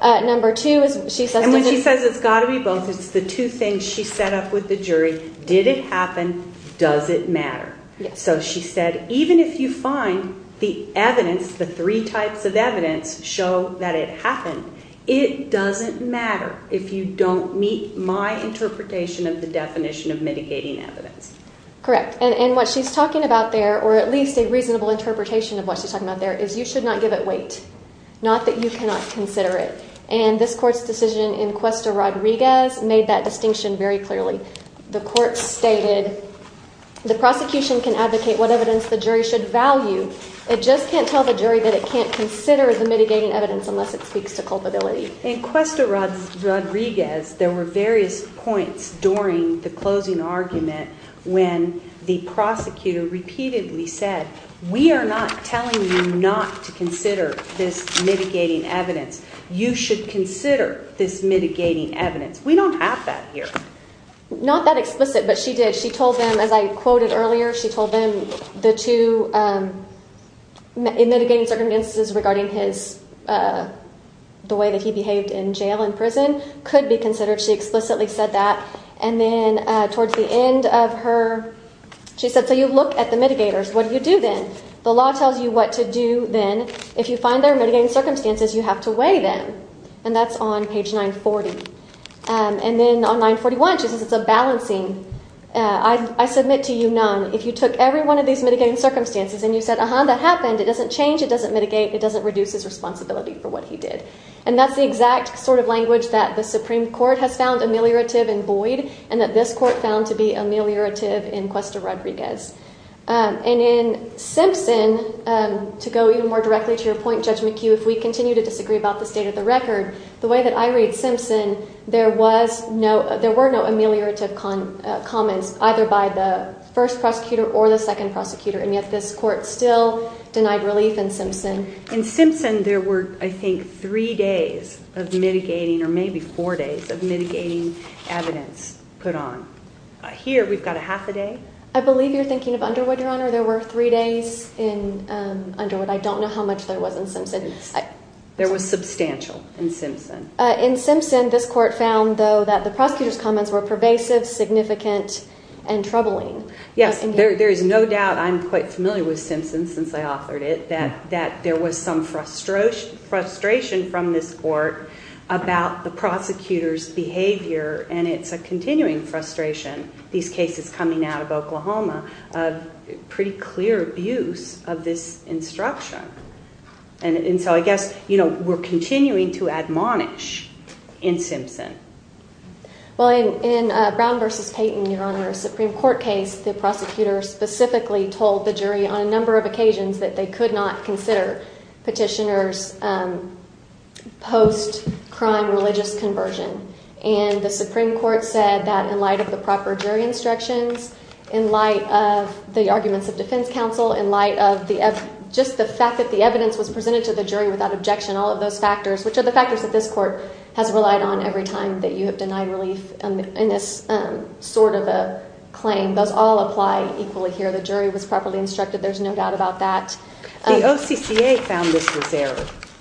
Number two is, she says, And when she says it's got to be both, it's the two things she set up with the jury. Did it happen? Does it matter? So she said, even if you find the evidence, the three types of evidence show that it happened, it doesn't matter if you don't meet my interpretation of the definition of mitigating evidence. Correct. And what she's talking about there, or at least a reasonable interpretation of what she's talking about there, is you should not give it weight. Not that you cannot consider it. And this court's decision in Cuesta Rodriguez made that distinction very clearly. The court stated, the prosecution can advocate what evidence the jury should value. It just can't tell the jury that it can't consider the mitigating evidence unless it speaks to culpability. In Cuesta Rodriguez, there were various points during the closing argument when the prosecutor repeatedly said, We are not telling you not to consider this mitigating evidence. You should consider this mitigating evidence. We don't have that here. Not that explicit, but she did. She told them, as I quoted earlier, she told them the two mitigating circumstances regarding the way that he behaved in jail and prison could be considered. She explicitly said that. And then towards the end of her, she said, so you look at the mitigators. What do you do then? The law tells you what to do then. If you find there are mitigating circumstances, you have to weigh them. And that's on page 940. And then on 941, she says it's a balancing. I submit to you none. If you took every one of these mitigating circumstances and you said, uh-huh, that happened, it doesn't change, it doesn't mitigate, it doesn't reduce his responsibility for what he did. And that's the exact sort of language that the Supreme Court has found ameliorative in Boyd and that this court found to be ameliorative in Cuesta Rodriguez. And in Simpson, to go even more directly to your point, Judge McHugh, if we continue to disagree about the state of the record, the way that I read Simpson, there were no ameliorative comments either by the first prosecutor or the second prosecutor, and yet this court still denied release in Simpson. In Simpson, there were, I think, three days of mitigating or maybe four days of mitigating evidence put on. Here, we've got a half a day. I believe you're thinking of Underwood, Your Honor. There were three days in Underwood. I don't know how much there was in Simpson. There was substantial in Simpson. In Simpson, this court found, though, that the prosecutor's comments were pervasive, significant, and troubling. Yes, there is no doubt I'm quite familiar with Simpson since I authored it, that there was some frustration from this court about the prosecutor's behavior, and it's a continuing frustration. These cases coming out of Oklahoma, pretty clear abuse of this instruction, and so I guess we're continuing to admonish in Simpson. Well, in Brown v. Payton, Your Honor, a Supreme Court case, the prosecutor specifically told the jury on a number of occasions that they could not consider petitioners post-crime religious conversion, and the Supreme Court said that in light of the proper jury instructions, in light of the arguments of defense counsel, in light of just the fact that the evidence was presented to the jury without objection, all of those factors, which are the factors that this court has relied on every time that you have denied release in this sort of a claim, those all apply equally here. The jury was properly instructed. There's no doubt about that. The OCCA found this was fair.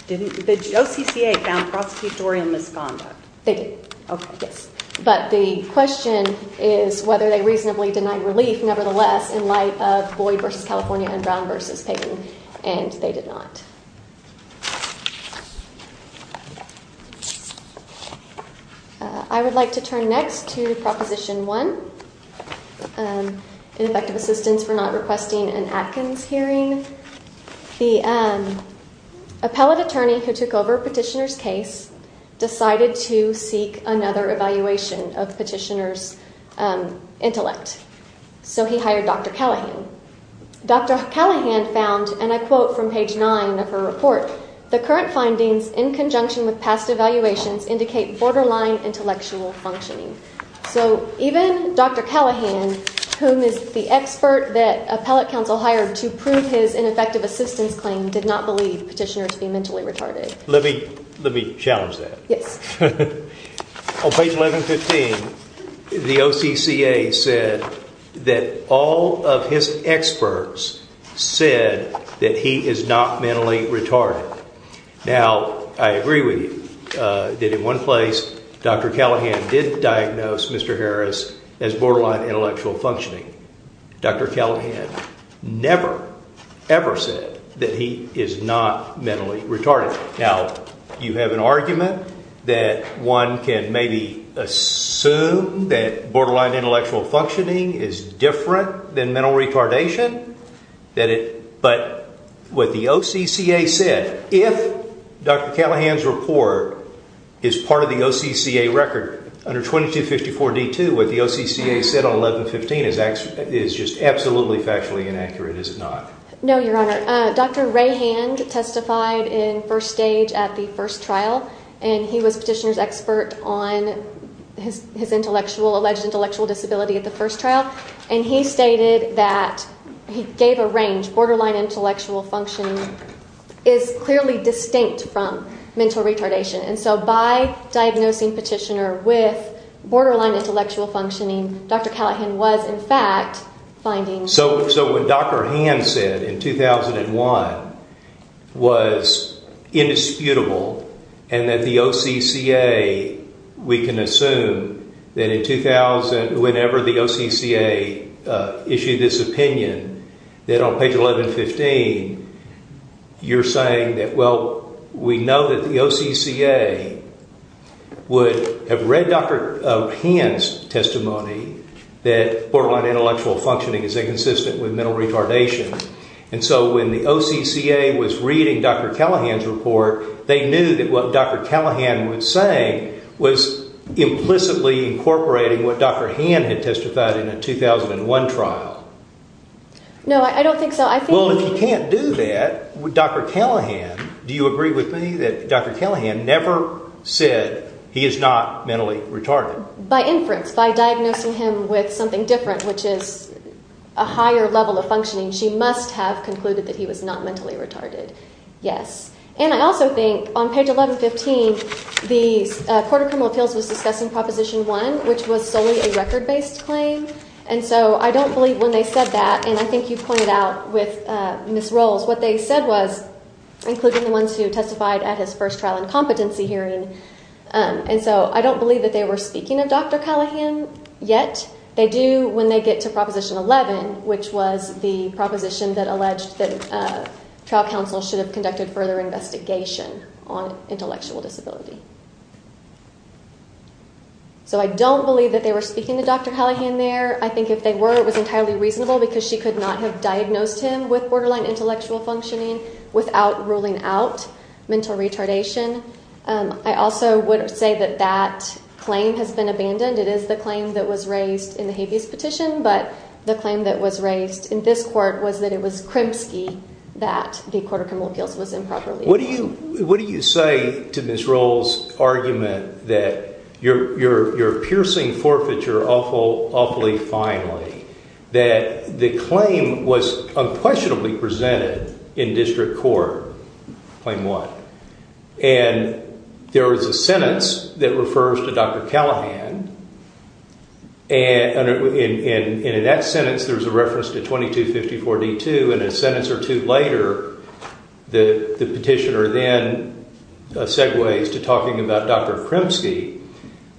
Did the OCCA found prosecutor in misconduct? They did. Okay. But the question is whether they reasonably denied release, nevertheless, in light of Floyd v. California and Brown v. Payton, and they did not. I would like to turn next to Proposition 1, ineffective assistance for not requesting an Atkins hearing. The appellate attorney who took over petitioner's case decided to seek another evaluation of petitioner's intellect, so he hired Dr. Callahan. Dr. Callahan found, and I quote from page 9 of her report, the current findings in conjunction with past evaluations indicate borderline intellectual functioning. So even Dr. Callahan, whom is the expert that appellate counsel hired to prove his ineffective assistance claim, did not believe petitioner to be mentally retarded. Let me challenge that. Yes. On page 1115, the OCCA said that all of his experts said that he is not mentally retarded. Now, I agree with you that in one place, Dr. Callahan did diagnose Mr. Harris as borderline intellectual functioning. Dr. Callahan never, ever said that he is not mentally retarded. Now, you have an argument that one can maybe assume that borderline intellectual functioning is different than mental retardation, but what the OCCA said, if Dr. Callahan's report is part of the OCCA record, under 2254D2, what the OCCA said on 1115 is just absolutely factually inaccurate, is it not? No, Your Honor. Dr. Ray Hand testified in first stage at the first trial, and he was the petitioner's expert on his alleged intellectual disability at the first trial, and he stated that he gave a range. Borderline intellectual functioning is clearly distinct from mental retardation, and so by diagnosing petitioner with borderline intellectual functioning, Dr. Callahan was, in fact, finding... So what Dr. Hand said in 2001 was indisputable, and that the OCCA, we can assume that in 2000, whenever the OCCA issued its opinion, that on page 1115, you're saying that, well, we know that the OCCA would have read Dr. Hand's testimony that borderline intellectual functioning is inconsistent with mental retardation, and so when the OCCA was reading Dr. Callahan's report, they knew that what Dr. Callahan was saying was implicitly incorporating what Dr. Hand had testified in the 2001 trial. No, I don't think so. Well, if you can't do that, Dr. Callahan... Do you agree with me that Dr. Callahan never said he is not mentally retarded? By inference, by diagnosing him with something different, which is a higher level of functioning, she must have concluded that he was not mentally retarded, yes. And I also think on page 1115, the Court of Criminal Appeals was discussing Proposition 1, which was solely a record-based claim, and so I don't believe when they said that, and I think you pointed out with Ms. Rolls, what they said was, including the ones who testified at his first trial incompetency hearing, and so I don't believe that they were speaking of Dr. Callahan yet. They do when they get to Proposition 11, which was the proposition that alleged that trial counsel should have conducted further investigation on intellectual disability. So I don't believe that they were speaking to Dr. Callahan there. I think if they were, it was entirely reasonable because she could not have diagnosed him with borderline intellectual functioning without ruling out mental retardation. I also would say that that claim has been abandoned. It is the claim that was raised in the Habeas Petition, but the claim that was raised in this Court was that it was Kremski that the Court of Criminal Appeals was improperly... What do you say to Ms. Rolls' argument that you're piercing forfeiture awfully finely, that the claim was unquestionably presented in district court? Claim what? And there was a sentence that refers to Dr. Callahan, and in that sentence there's a reference to 2254D2, and a sentence or two later, the petitioner then segues to talking about Dr. Kremski.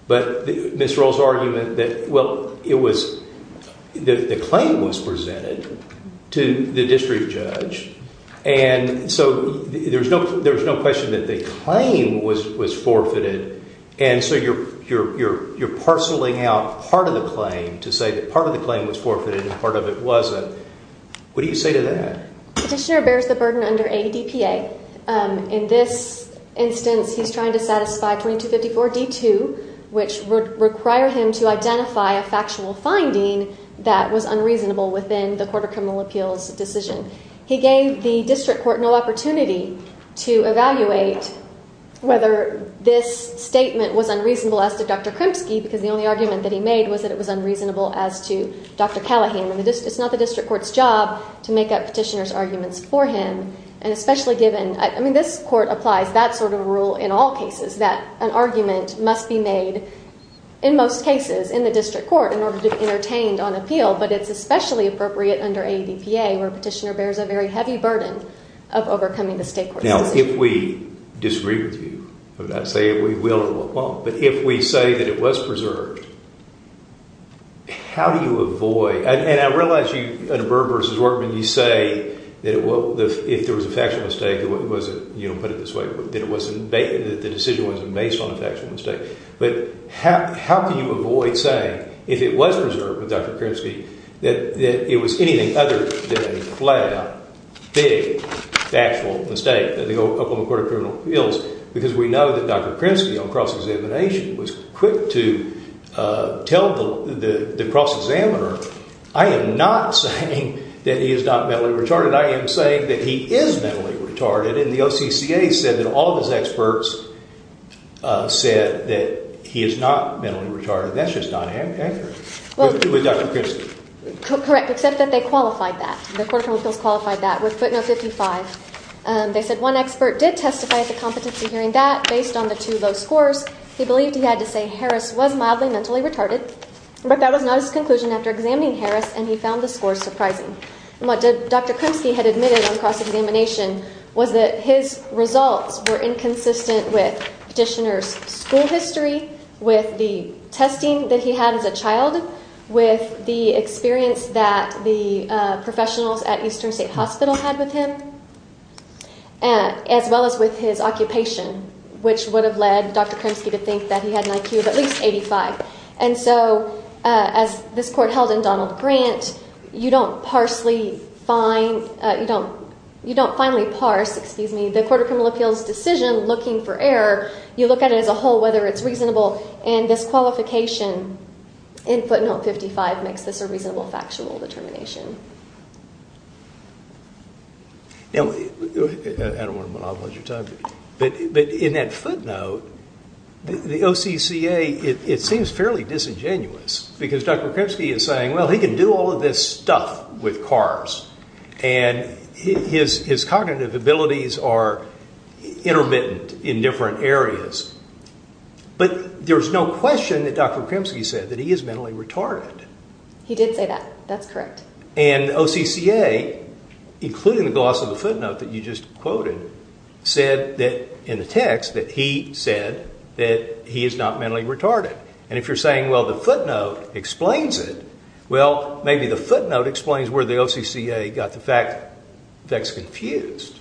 But Ms. Rolls' argument that, well, it was... The claim was presented to the district judge, and so there's no question that the claim was forfeited, and so you're parceling out part of the claim to say that part of the claim was forfeited and part of it wasn't. What do you say to that? The petitioner bears the burden under ADPA. In this instance, he's trying to satisfy 2254D2, which required him to identify a factual finding that was unreasonable within the Court of Criminal Appeals' decision. He gave the district court no opportunity to evaluate whether this statement was unreasonable as to Dr. Kremski, because the only argument that he made was that it was unreasonable as to Dr. Callahan. It's not the district court's job to make up petitioner's arguments for him, and especially given... I mean, this court applies that sort of rule in all cases, that an argument must be made, in most cases, in the district court, in order to be entertained on appeal, but it's especially appropriate under ADPA, where a petitioner bears a very heavy burden of overcoming this case. Now, if we disagree with you, and I say we will or will not, but if we say that it was preserved, how do you avoid... And I realize you, in Burber's work, when you say that if there was a factual mistake, you wouldn't put it this way, that the decision wasn't based on a factual mistake, but how can you avoid saying, if it was preserved with Dr. Kremski, that it was anything other than a flat-out, big, factual mistake that the old Court of Criminal Appeals... Because we know that Dr. Kremski, on cross-examination, was quick to tell the cross-examiner, I am not saying that he is not mentally retarded. I am saying that he is mentally retarded, and the OCCA said that all those experts said that he is not mentally retarded. That's just not an answer. What did you do with Dr. Kremski? Correct, except that they qualified that. The Court of Criminal Appeals qualified that with footnote 55. They said one expert did testify to competency during that, based on the two low scores. He believed he had to say Harris was mildly mentally retarded, but that was not his conclusion after examining Harris, and he found the scores surprising. What Dr. Kremski had admitted on cross-examination was that his results were inconsistent with petitioner's school history, with the testing that he had as a child, with the experience that the professionals at Eastern State Hospital had with him, as well as with his occupation, which would have led Dr. Kremski to think that he had an IQ of at least 85. And so, as this Court held in Donald Grant, you don't finely parse the Court of Criminal Appeals' decision looking for error. You look at it as a whole, whether it's reasonable, and disqualification in footnote 55 makes this a reasonable factional determination. I don't want to monopolize your time, but in that footnote, the OCCA, it seems fairly disingenuous, because Dr. Kremski is saying, well, he can do all of this stuff with CARs, and his cognitive abilities are intermittent in different areas. But there's no question that Dr. Kremski said that he is mentally retarded. He did say that. That's correct. And OCCA, including the gloss of the footnote that you just quoted, said in the text that he said that he is not mentally retarded. And if you're saying, well, the footnote explains it, well, maybe the footnote explains where the OCCA got the facts confused.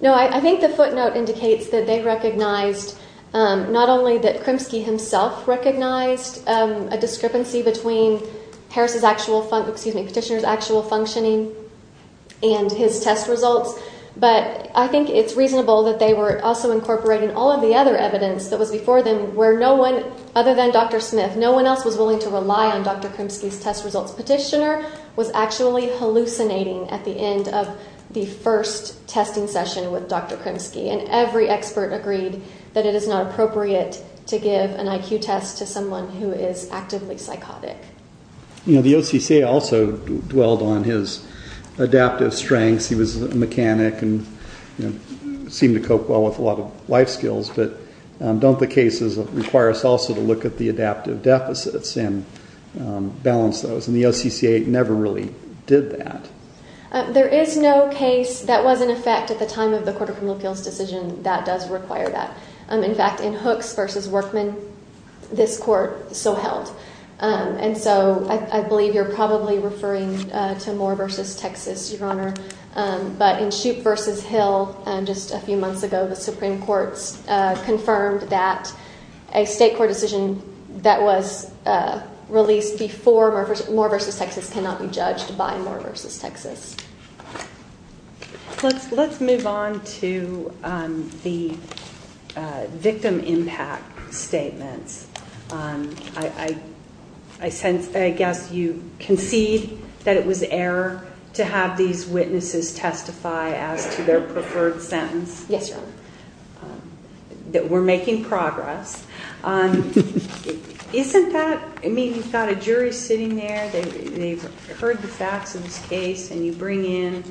No, I think the footnote indicates that they recognized not only that Kremski himself recognized a discrepancy between the petitioner's actual functioning and his test results, but I think it's reasonable that they were also incorporating all of the other evidence that was before them, where no one, other than Dr. Smith, no one else was willing to rely on Dr. Kremski's test results. The petitioner was actually hallucinating at the end of the first testing session with Dr. Kremski, and every expert agreed that it is not appropriate to give an IQ test to someone who is actively psychotic. The OCCA also dwelled on his adaptive strengths. He was a mechanic and seemed to cope well with a lot of life skills, but don't the cases require us also to look at the adaptive deficits and balance those? And the OCCA never really did that. There is no case that was in effect at the time of the Court of Criminal Appeals decision that does require that. In fact, in Hooks v. Workman, this Court still held. And so I believe you're probably referring to Moore v. Texas, Your Honor. But in Shoup v. Hill, just a few months ago, the Supreme Court confirmed that a state court decision that was released before Moore v. Texas cannot be judged by Moore v. Texas. Let's move on to the victim impact statement. I guess you concede that it was error to have these witnesses testify out of their preferred sentence. Yes, Your Honor. That we're making progress. Isn't that... I mean, you've got a jury sitting there. They've heard the facts of the case, and you bring in,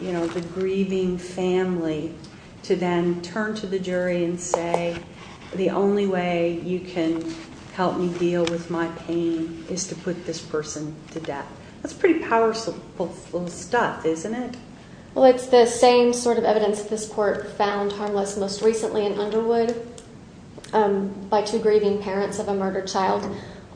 you know, the grieving family to then turn to the jury and say, the only way you can help me deal with my pain is to put this person to death. That's pretty powerful stuff, isn't it? Well, it's the same sort of evidence this Court found harmless most recently in Underwood by two grieving parents of a murdered child,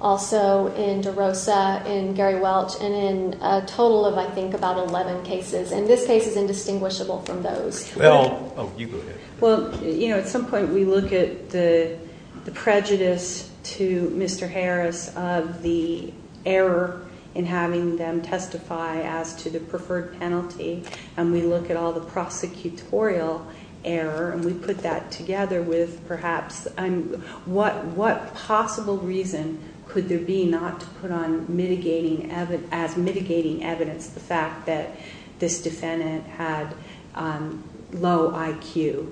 also in DeRosa and Gary Welch, and in a total of, I think, about 11 cases, and this case is indistinguishable from those. Well... Oh, you go ahead. Well, you know, at some point we look at the prejudice to Mr. Harris of the error in having them testify as to the preferred penalty, and we look at all the prosecutorial error, and we put that together with, perhaps, what possible reason could there be not to put on mitigating evidence the fact that this defendant has low IQ.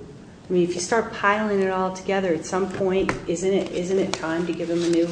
I mean, if you start piling it all together, at some point, isn't it time to give him a new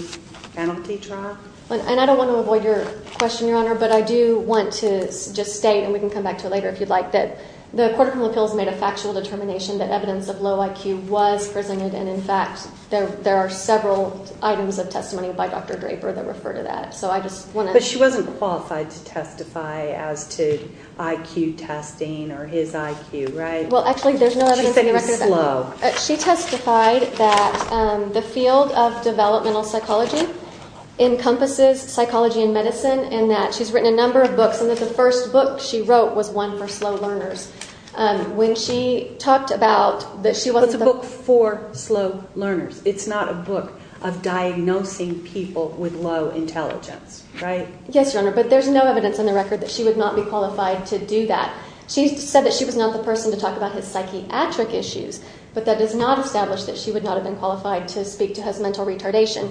penalty draw? And I don't want to avoid your question, Your Honor, but I do want to just state, and we can come back to it later if you'd like, that the Court of Appeals made a factual determination that evidence of low IQ was presented, and, in fact, there are several items of testimony by Dr. Draper that refer to that, so I just want to... But she wasn't qualified to testify as to IQ testing or his IQ, right? Well, actually, there's no evidence of low. She testified that the field of developmental psychology encompasses psychology and medicine, and that she's written a number of books, and that the first book she wrote was one for slow learners. When she talked about... But it's a book for slow learners. It's not a book of diagnosing people with low intelligence, right? Yes, Your Honor, but there's no evidence on the record that she would not be qualified to do that. She said that she was not the person to talk about his psychiatric issues, but that is not established that she would not have been qualified to speak to his mental retardation.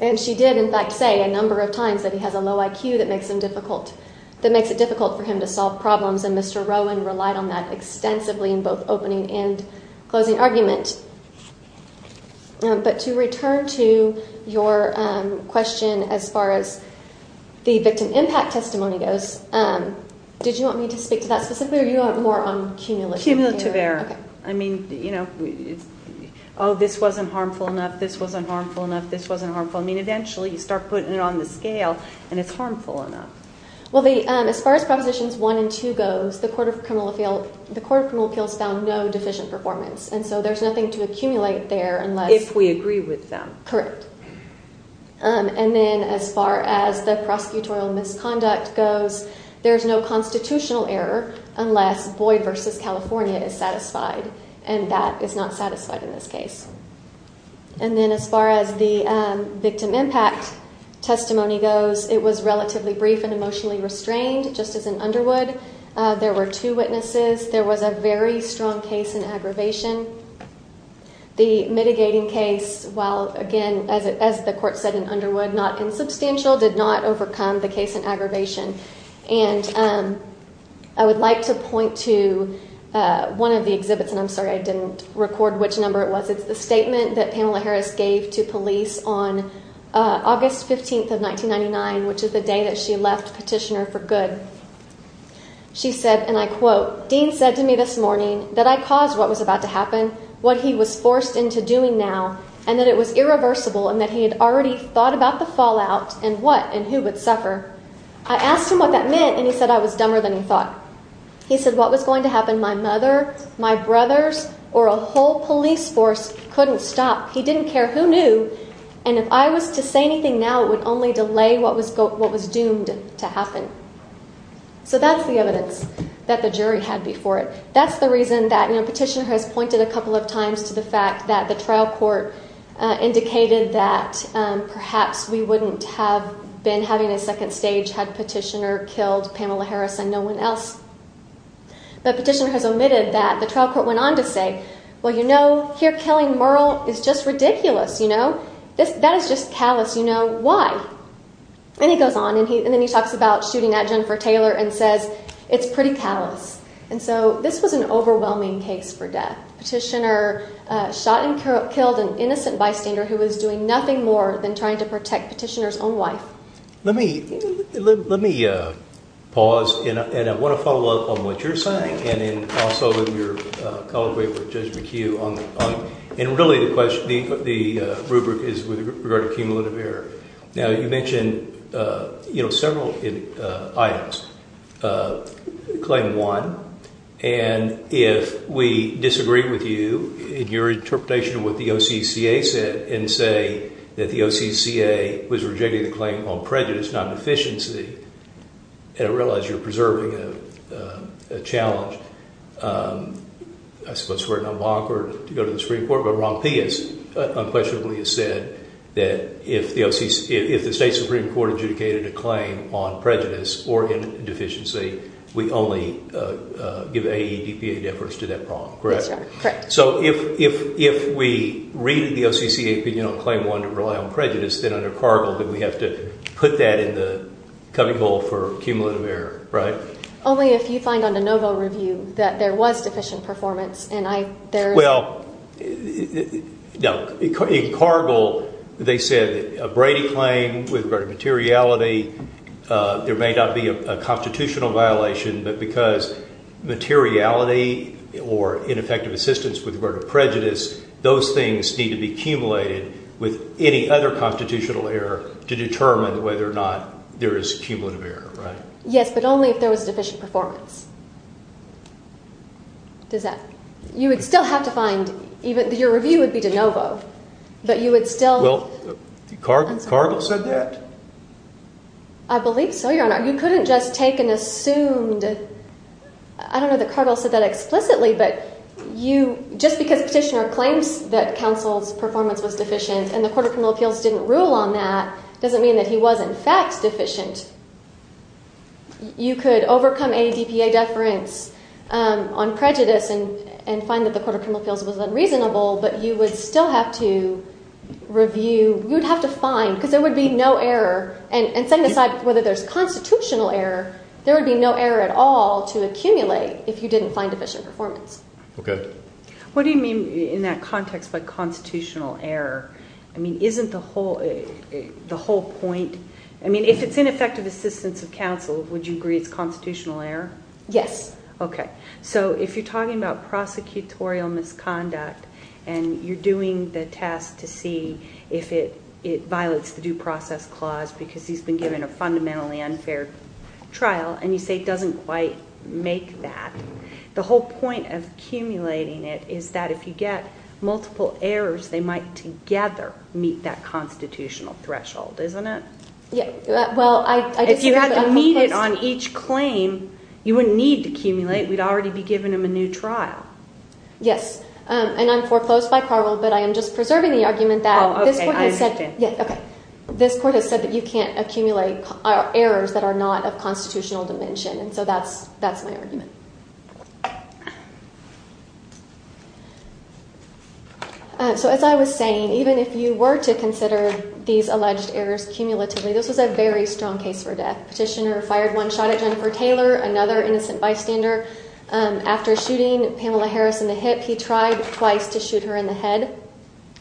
And she did, in fact, say a number of times that he has a low IQ that makes it difficult for him to solve problems, and Mr. Rowan relied on that extensively in both opening and closing arguments. But to return to your question as far as the victim impact testimony goes, did you want me to speak to that specifically, or do you want more cumulative? Cumulative error. I mean, you know, oh, this wasn't harmful enough, this wasn't harmful enough, this wasn't harmful. I mean, eventually, you start putting it on the scale, and it's harmful enough. Well, as far as Prohibitions 1 and 2 goes, the Court of Criminal Appeals found no deficient performance, and so there's nothing to accumulate there unless... If we agree with them. Correct. And then as far as the prosecutorial misconduct goes, there's no constitutional error unless Boyd v. California is satisfied, and that is not satisfied in this case. And then as far as the victim impact testimony goes, it was relatively brief and emotionally restrained, just as in Underwood. There were two witnesses. There was a very strong case in aggravation. The mitigating case, while, again, as the Court said in Underwood, not insubstantial, did not overcome the case in aggravation. And I would like to point to one of the exhibits, and I'm sorry I didn't record which number it was. It's a statement that Pamela Harris gave to police on August 15th of 1999, which is the day that she left Petitioner for Good. She said, and I quote, Dean said to me this morning that I caused what was about to happen, what he was forced into doing now, and that it was irreversible and that he had already thought about the fallout and what and who would suffer. I asked him what that meant, and he said I was dumber than he thought. He said what was going to happen, my mother, my brothers, or a whole police force couldn't stop. He didn't care. Who knew? And if I was to say anything now, it would only delay what was doomed to happen. So that's the evidence that the jury had before it. That's the reason that Petitioner has pointed a couple of times to the fact that the trial court indicated that perhaps we wouldn't have been having a second stage had Petitioner killed Pamela Harris and no one else. But Petitioner has omitted that. The trial court went on to say, well, you know, here killing Merle is just ridiculous, you know? That is just callous, you know? Why? And he goes on, and then he talks about shooting at Jennifer Taylor and says it's pretty callous. And so this was an overwhelming case for death. Petitioner shot and killed an innocent lifegainer who was doing nothing more than trying to protect Petitioner's own life. Let me pause and I want to follow up on what you're saying and also your collaboration with Judge McHugh. And really the question, the rubric is regarding cumulative error. Now, you mentioned, you know, several items. Claim one, and if we disagree with you in your interpretation of what the OCCA said and say that the OCCA was rejecting the claim on prejudice, not deficiency, and I realize you're preserving a challenge, I suppose for an unlocker to go to the Supreme Court, but Ron Pease unquestionably has said that if the state Supreme Court adjudicated a claim on prejudice or deficiency, we only give AEDPA deference to that problem, correct? Correct. So if we read the OCCA, but you don't claim one to rely on prejudice, then under Cargill, then we have to put that in the coming vote for cumulative error, right? Only if you find on the NoVo review that there was deficient performance. Well, no. In Cargill, they said a Brady claim with regard to materiality, there may not be a constitutional violation, but because materiality or ineffective assistance with regard to prejudice, those things need to be cumulated with any other constitutional error to determine whether or not there is cumulative error, right? Yes, but only if there was deficient performance. Does that... You would still have to find... Your review would be to NoVo, but you would still... Well, Cargill said that. I believe so, Your Honor. You couldn't just take and assume that... I don't know that Cargill said that explicitly, but you... Just because a petitioner claims that counsel's performance was deficient and the Court of Criminal Appeals didn't rule on that doesn't mean that he was in fact deficient. You could overcome any DPA deference on prejudice and find that the Court of Criminal Appeals was unreasonable, but you would still have to review... You would have to find, because there would be no error, and setting aside whether there's constitutional error, there would be no error at all to accumulate if you didn't find deficient performance. Okay. What do you mean in that context by constitutional error? I mean, isn't the whole point... I mean, if it's ineffective assistance of counsel, would you agree it's constitutional error? Yes. Okay. So if you're talking about prosecutorial misconduct and you're doing the test to see if it violates the Due Process Clause because he's been given a fundamentally unfair trial, and you say it doesn't quite make that, the whole point of accumulating it is that if you get multiple errors, they might together meet that constitutional threshold, isn't it? Yes. Well, I... If you had to meet it on each claim, you wouldn't need to accumulate. You'd already be giving him a new trial. Yes. And I'm foreclosed by parole, but I am just preserving the argument that... Oh, okay, I understand. Yes, okay. This court has said that you can't accumulate errors that are not of constitutional dimension, so that's my argument. So as I was saying, even if you were to consider these alleged errors cumulatively, this is a very strong case for death. Fishner fired one shot at Jennifer Taylor, another innocent bystander. After shooting Pamela Harris in the hips, he tried twice to shoot her in the head.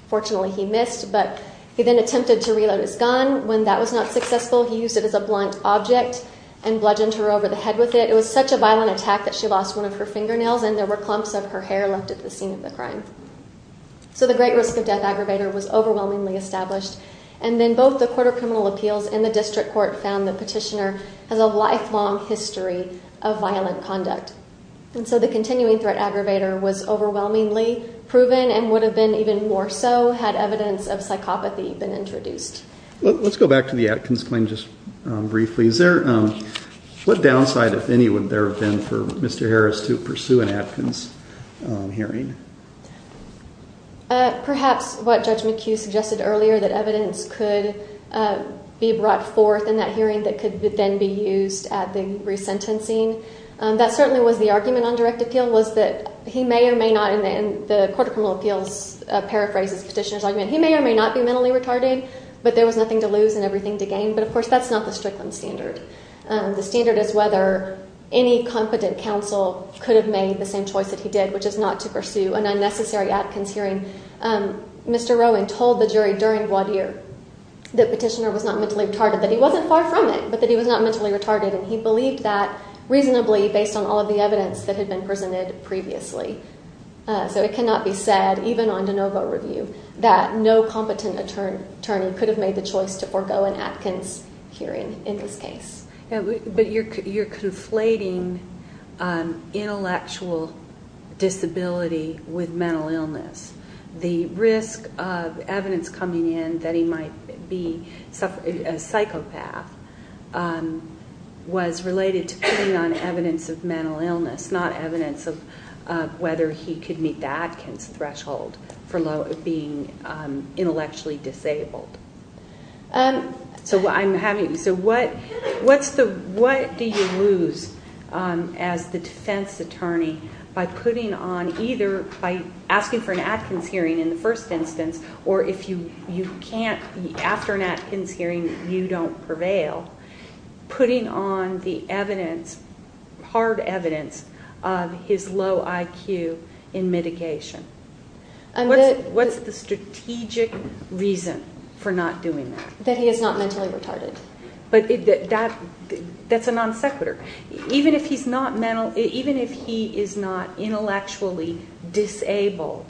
Fortunately, he missed, but he then attempted to reload his gun. When that was not successful, he used it as a blunt object and bludgeoned her over the head with it. It was such a violent attack that she lost one of her fingernails, and there were clumps of her hair left at the scene of the crime. So the Great Risk of Death Aggravator was overwhelmingly established, and then both the Court of Criminal Appeals and the District Court found the petitioner has a lifelong history of violent conduct. And so the Continuing Threat Aggravator was overwhelmingly proven and would have been even more so had evidence of psychopathy been introduced. Let's go back to the Atkins claim just briefly. Is there... What downside, if any, would there have been for Mr. Harris to pursue an Atkins hearing? Perhaps what Judge McHugh suggested earlier, that evidence could be brought forth in that hearing that could then be used at the re-sentencing. That certainly was the argument on direct appeal, was that he may or may not, and the Court of Criminal Appeals paraphrased the petitioner's argument, he may or may not be mentally retarded, but there was nothing to lose and everything to gain. But, of course, that's not the strictest standard. The standard is whether any competent counsel could have made the same choice as he did, which is not to pursue an unnecessary Atkins hearing. Mr. Rowan told the jury during voir dire that the petitioner was not mentally retarded, that he wasn't far from it, but that he was not mentally retarded, and he believed that reasonably based on all of the evidence that had been presented previously. So it cannot be said, even on de novo review, that no competent attorney could have made the choice to forego an Atkins hearing in this case. But you're conflating intellectual disability with mental illness. The risk of evidence coming in that he might be a psychopath was related to putting on evidence of mental illness, not evidence of whether he could meet the Atkins threshold for being intellectually disabled. So what do you lose as the defense attorney by putting on either, by asking for an Atkins hearing in the first instance, or if you can't, after an Atkins hearing, you don't prevail, putting on the evidence, hard evidence, of his low IQ in mitigation? What is the strategic reason for not doing that? That he is not mentally retarded. But that's a non sequitur. Even if he is not intellectually disabled,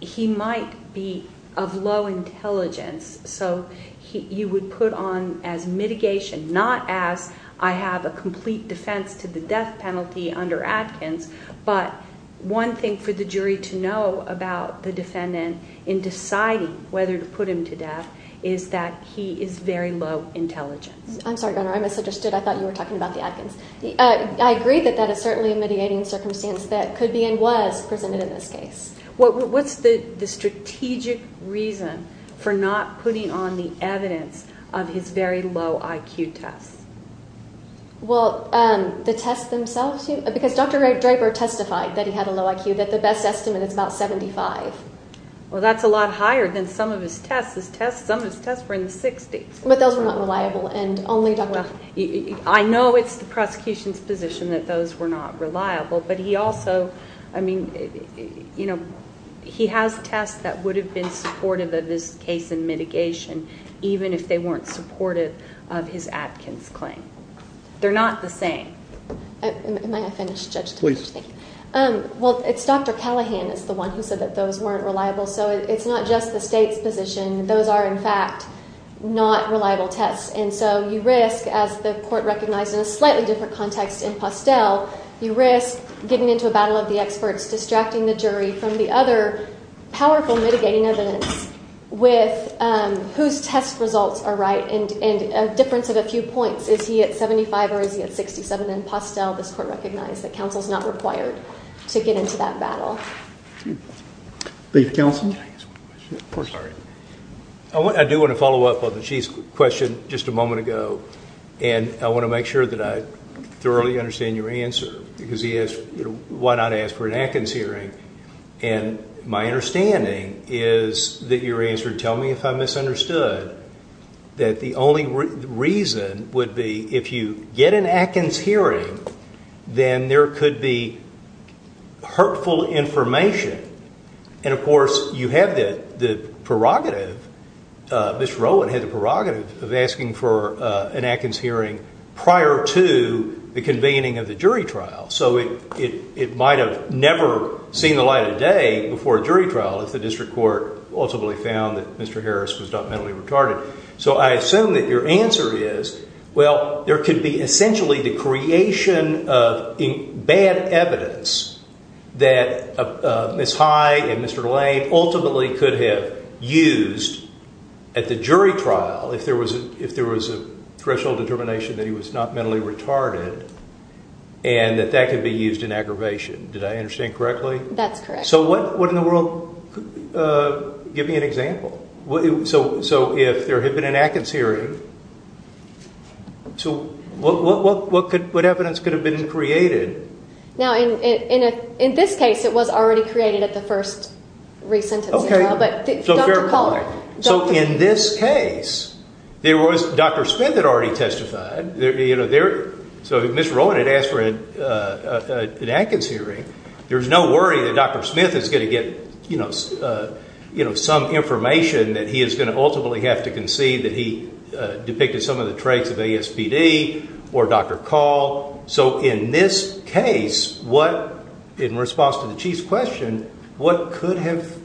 he might be of low intelligence, so you would put on as mitigation, not as I have a complete defense to the death penalty under Atkins, but one thing for the jury to know about the defendant in deciding whether to put him to death is that he is very low intelligence. I'm sorry, Governor, I misunderstood. I thought you were talking about the Atkins. I agree that that is certainly a mitigating circumstance that could be and was presented in this case. What's the strategic reason for not putting on the evidence of his very low IQ test? Well, the test themselves, because Dr. Draper testified that he had a low IQ, that the best estimate is about 75. Well, that's a lot higher than some of his tests. Some of his tests were in the 60s. But those were not reliable, and only Dr. I know it's the prosecution's position that those were not reliable, but he also, I mean, you know, he has tests that would have been supportive of his case in mitigation, even if they weren't supportive of his Atkins claim. They're not the same. Am I offended, Judge? Please. Well, it's Dr. Callahan that's the one who said that those weren't reliable. So it's not just the state's position. Those are, in fact, not reliable tests. And so you risk, as the court recognized in a slightly different context in Postel, you risk getting into a battle of the experts, distracting the jury from the other powerful mitigating evidence with whose test results are right, and a difference of a few points. Is he at 75 or is he at 67? In Postel, this court recognized that counsel is not required to get into that battle. Chief Counsel? I do want to follow up on the Chief's question just a moment ago, and I want to make sure that I thoroughly understand your answer, because he asked, you know, why not ask for an Atkins hearing? And my understanding is that your answer, tell me if I misunderstood, that the only reason would be if you get an Atkins hearing, then there could be hurtful information. And, of course, you have the prerogative, Ms. Rowland had the prerogative of asking for an Atkins hearing prior to the convening of the jury trial. So it might have never seen the light of day before a jury trial if the district court ultimately found that Mr. Harris was not mentally retarded. So I assume that your answer is, well, there could be essentially the creation of bad evidence that Ms. Hyde and Mr. Lane ultimately could have used at the jury trial if there was a professional determination that he was not mentally retarded and that that could be used in aggravation. Did I understand correctly? That's correct. So what in the world, give me an example. So if there had been an Atkins hearing, what evidence could have been created? Now, in this case, it was already created at the first recent jury trial. So in this case, Dr. Smith had already testified. So if Ms. Rowland had asked for an Atkins hearing, there's no worry that Dr. Smith is going to get some information that he is going to ultimately have to concede that he depicted some of the traits of ASPD or Dr. Call. So in this case, in response to the Chief's question, what could have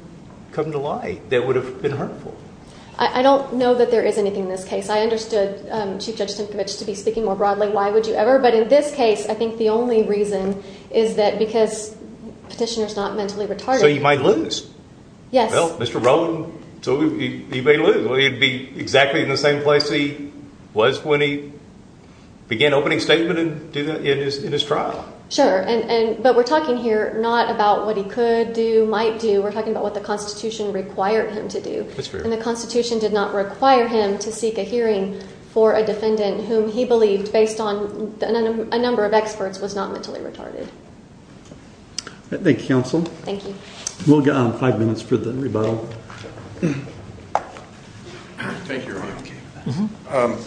come to light that would have been hurtful? I don't know that there is anything in this case. I understood Chief Judge Stankovich to be speaking more broadly. Why would you ever? But in this case, I think the only reason is that because the petitioner is not mentally retarded. So he might lose. Yes. Well, Mr. Rowland, he may lose. He'd be exactly in the same place he was when he began opening statement in his trial. Sure, but we're talking here not about what he could do, might do. We're talking about what the Constitution required him to do. And the Constitution did not require him to seek a hearing for a defendant whom he believed, based on a number of experts, was not mentally retarded. Thank you, counsel. Thank you. We'll get on five minutes for the rebuttal. Thank you, Your Honor.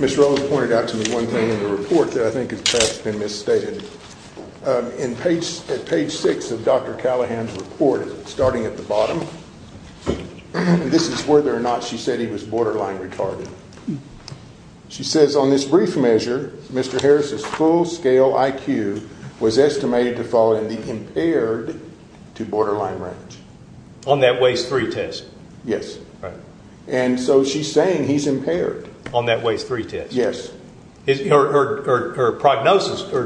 Ms. Rowland pointed out to me one thing in the report that I think has been misstated. At page 6 of Dr. Callahan's report, starting at the bottom, this is whether or not she said he was borderline retarded. She says, Mr. Harris's full-scale IQ was estimated to fall and be impaired to borderline range. On that Waze 3 test. Yes. And so she's saying he's impaired. On that Waze 3 test. Yes. Her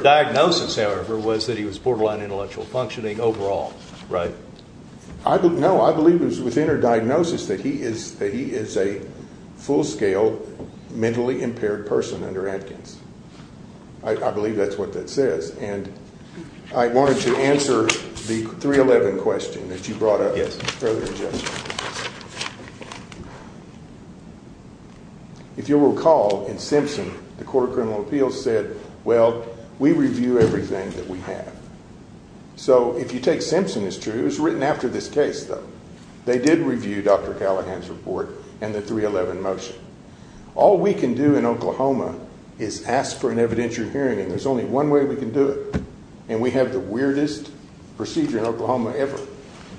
diagnosis, however, was that he was borderline intellectual functioning overall. Right. No, I believe it was within her diagnosis that he is a full-scale mentally impaired person under amputation. I believe that's what that says. And I wanted to answer the 311 question that you brought up earlier. Yes. If you'll recall, in Simpson, the Court of Criminal Appeals said, well, we review everything that we have. So if you take Simpson, it's true. It was written after this case, though. They did review Dr. Callahan's report and the 311 motion. All we can do in Oklahoma is ask for an evidentiary hearing. There's only one way we can do it, and we have the weirdest procedure in Oklahoma ever.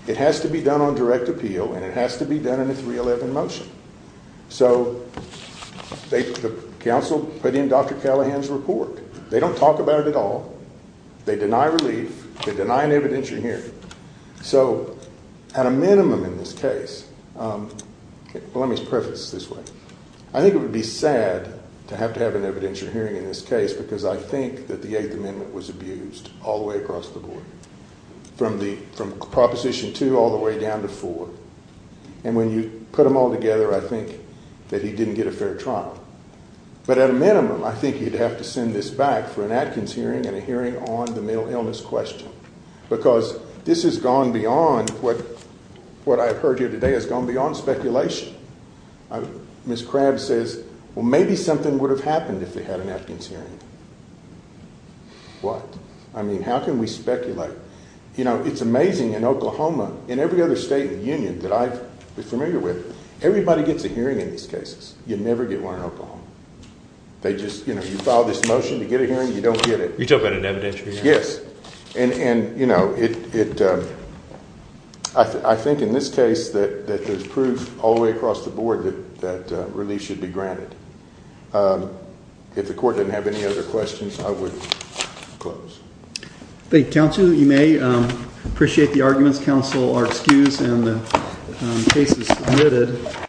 It has to be done on direct appeal, and it has to be done in a 311 motion. So the counsel put in Dr. Callahan's report. They don't talk about it at all. They deny relief. They deny an evidentiary hearing. So at a minimum in this case, let me preface this way. I think it would be sad to have to have an evidentiary hearing in this case because I think that the 8th Amendment was abused all the way across the board, from Proposition 2 all the way down to 4. And when you put them all together, I think that he didn't get a fair trial. But at a minimum, I think you'd have to send this back for an actings hearing and a hearing on the mental illness question because this has gone beyond what I've heard here today has gone beyond speculation. Ms. Crabb says, well, maybe something would have happened if they had an actings hearing. What? I mean, how can we speculate? You know, it's amazing in Oklahoma, in every other state and union that I was familiar with, everybody gets a hearing in these cases. You never get one in Oklahoma. They just, you know, you file this motion to get a hearing, you don't get it. You took an evidentiary hearing? Yes. And, you know, I think in this case that there's proof all the way across the board that relief should be granted. If the court didn't have any other questions, I would close. Thank you, counsel. You may appreciate the arguments. Counsel are excused and the case is submitted.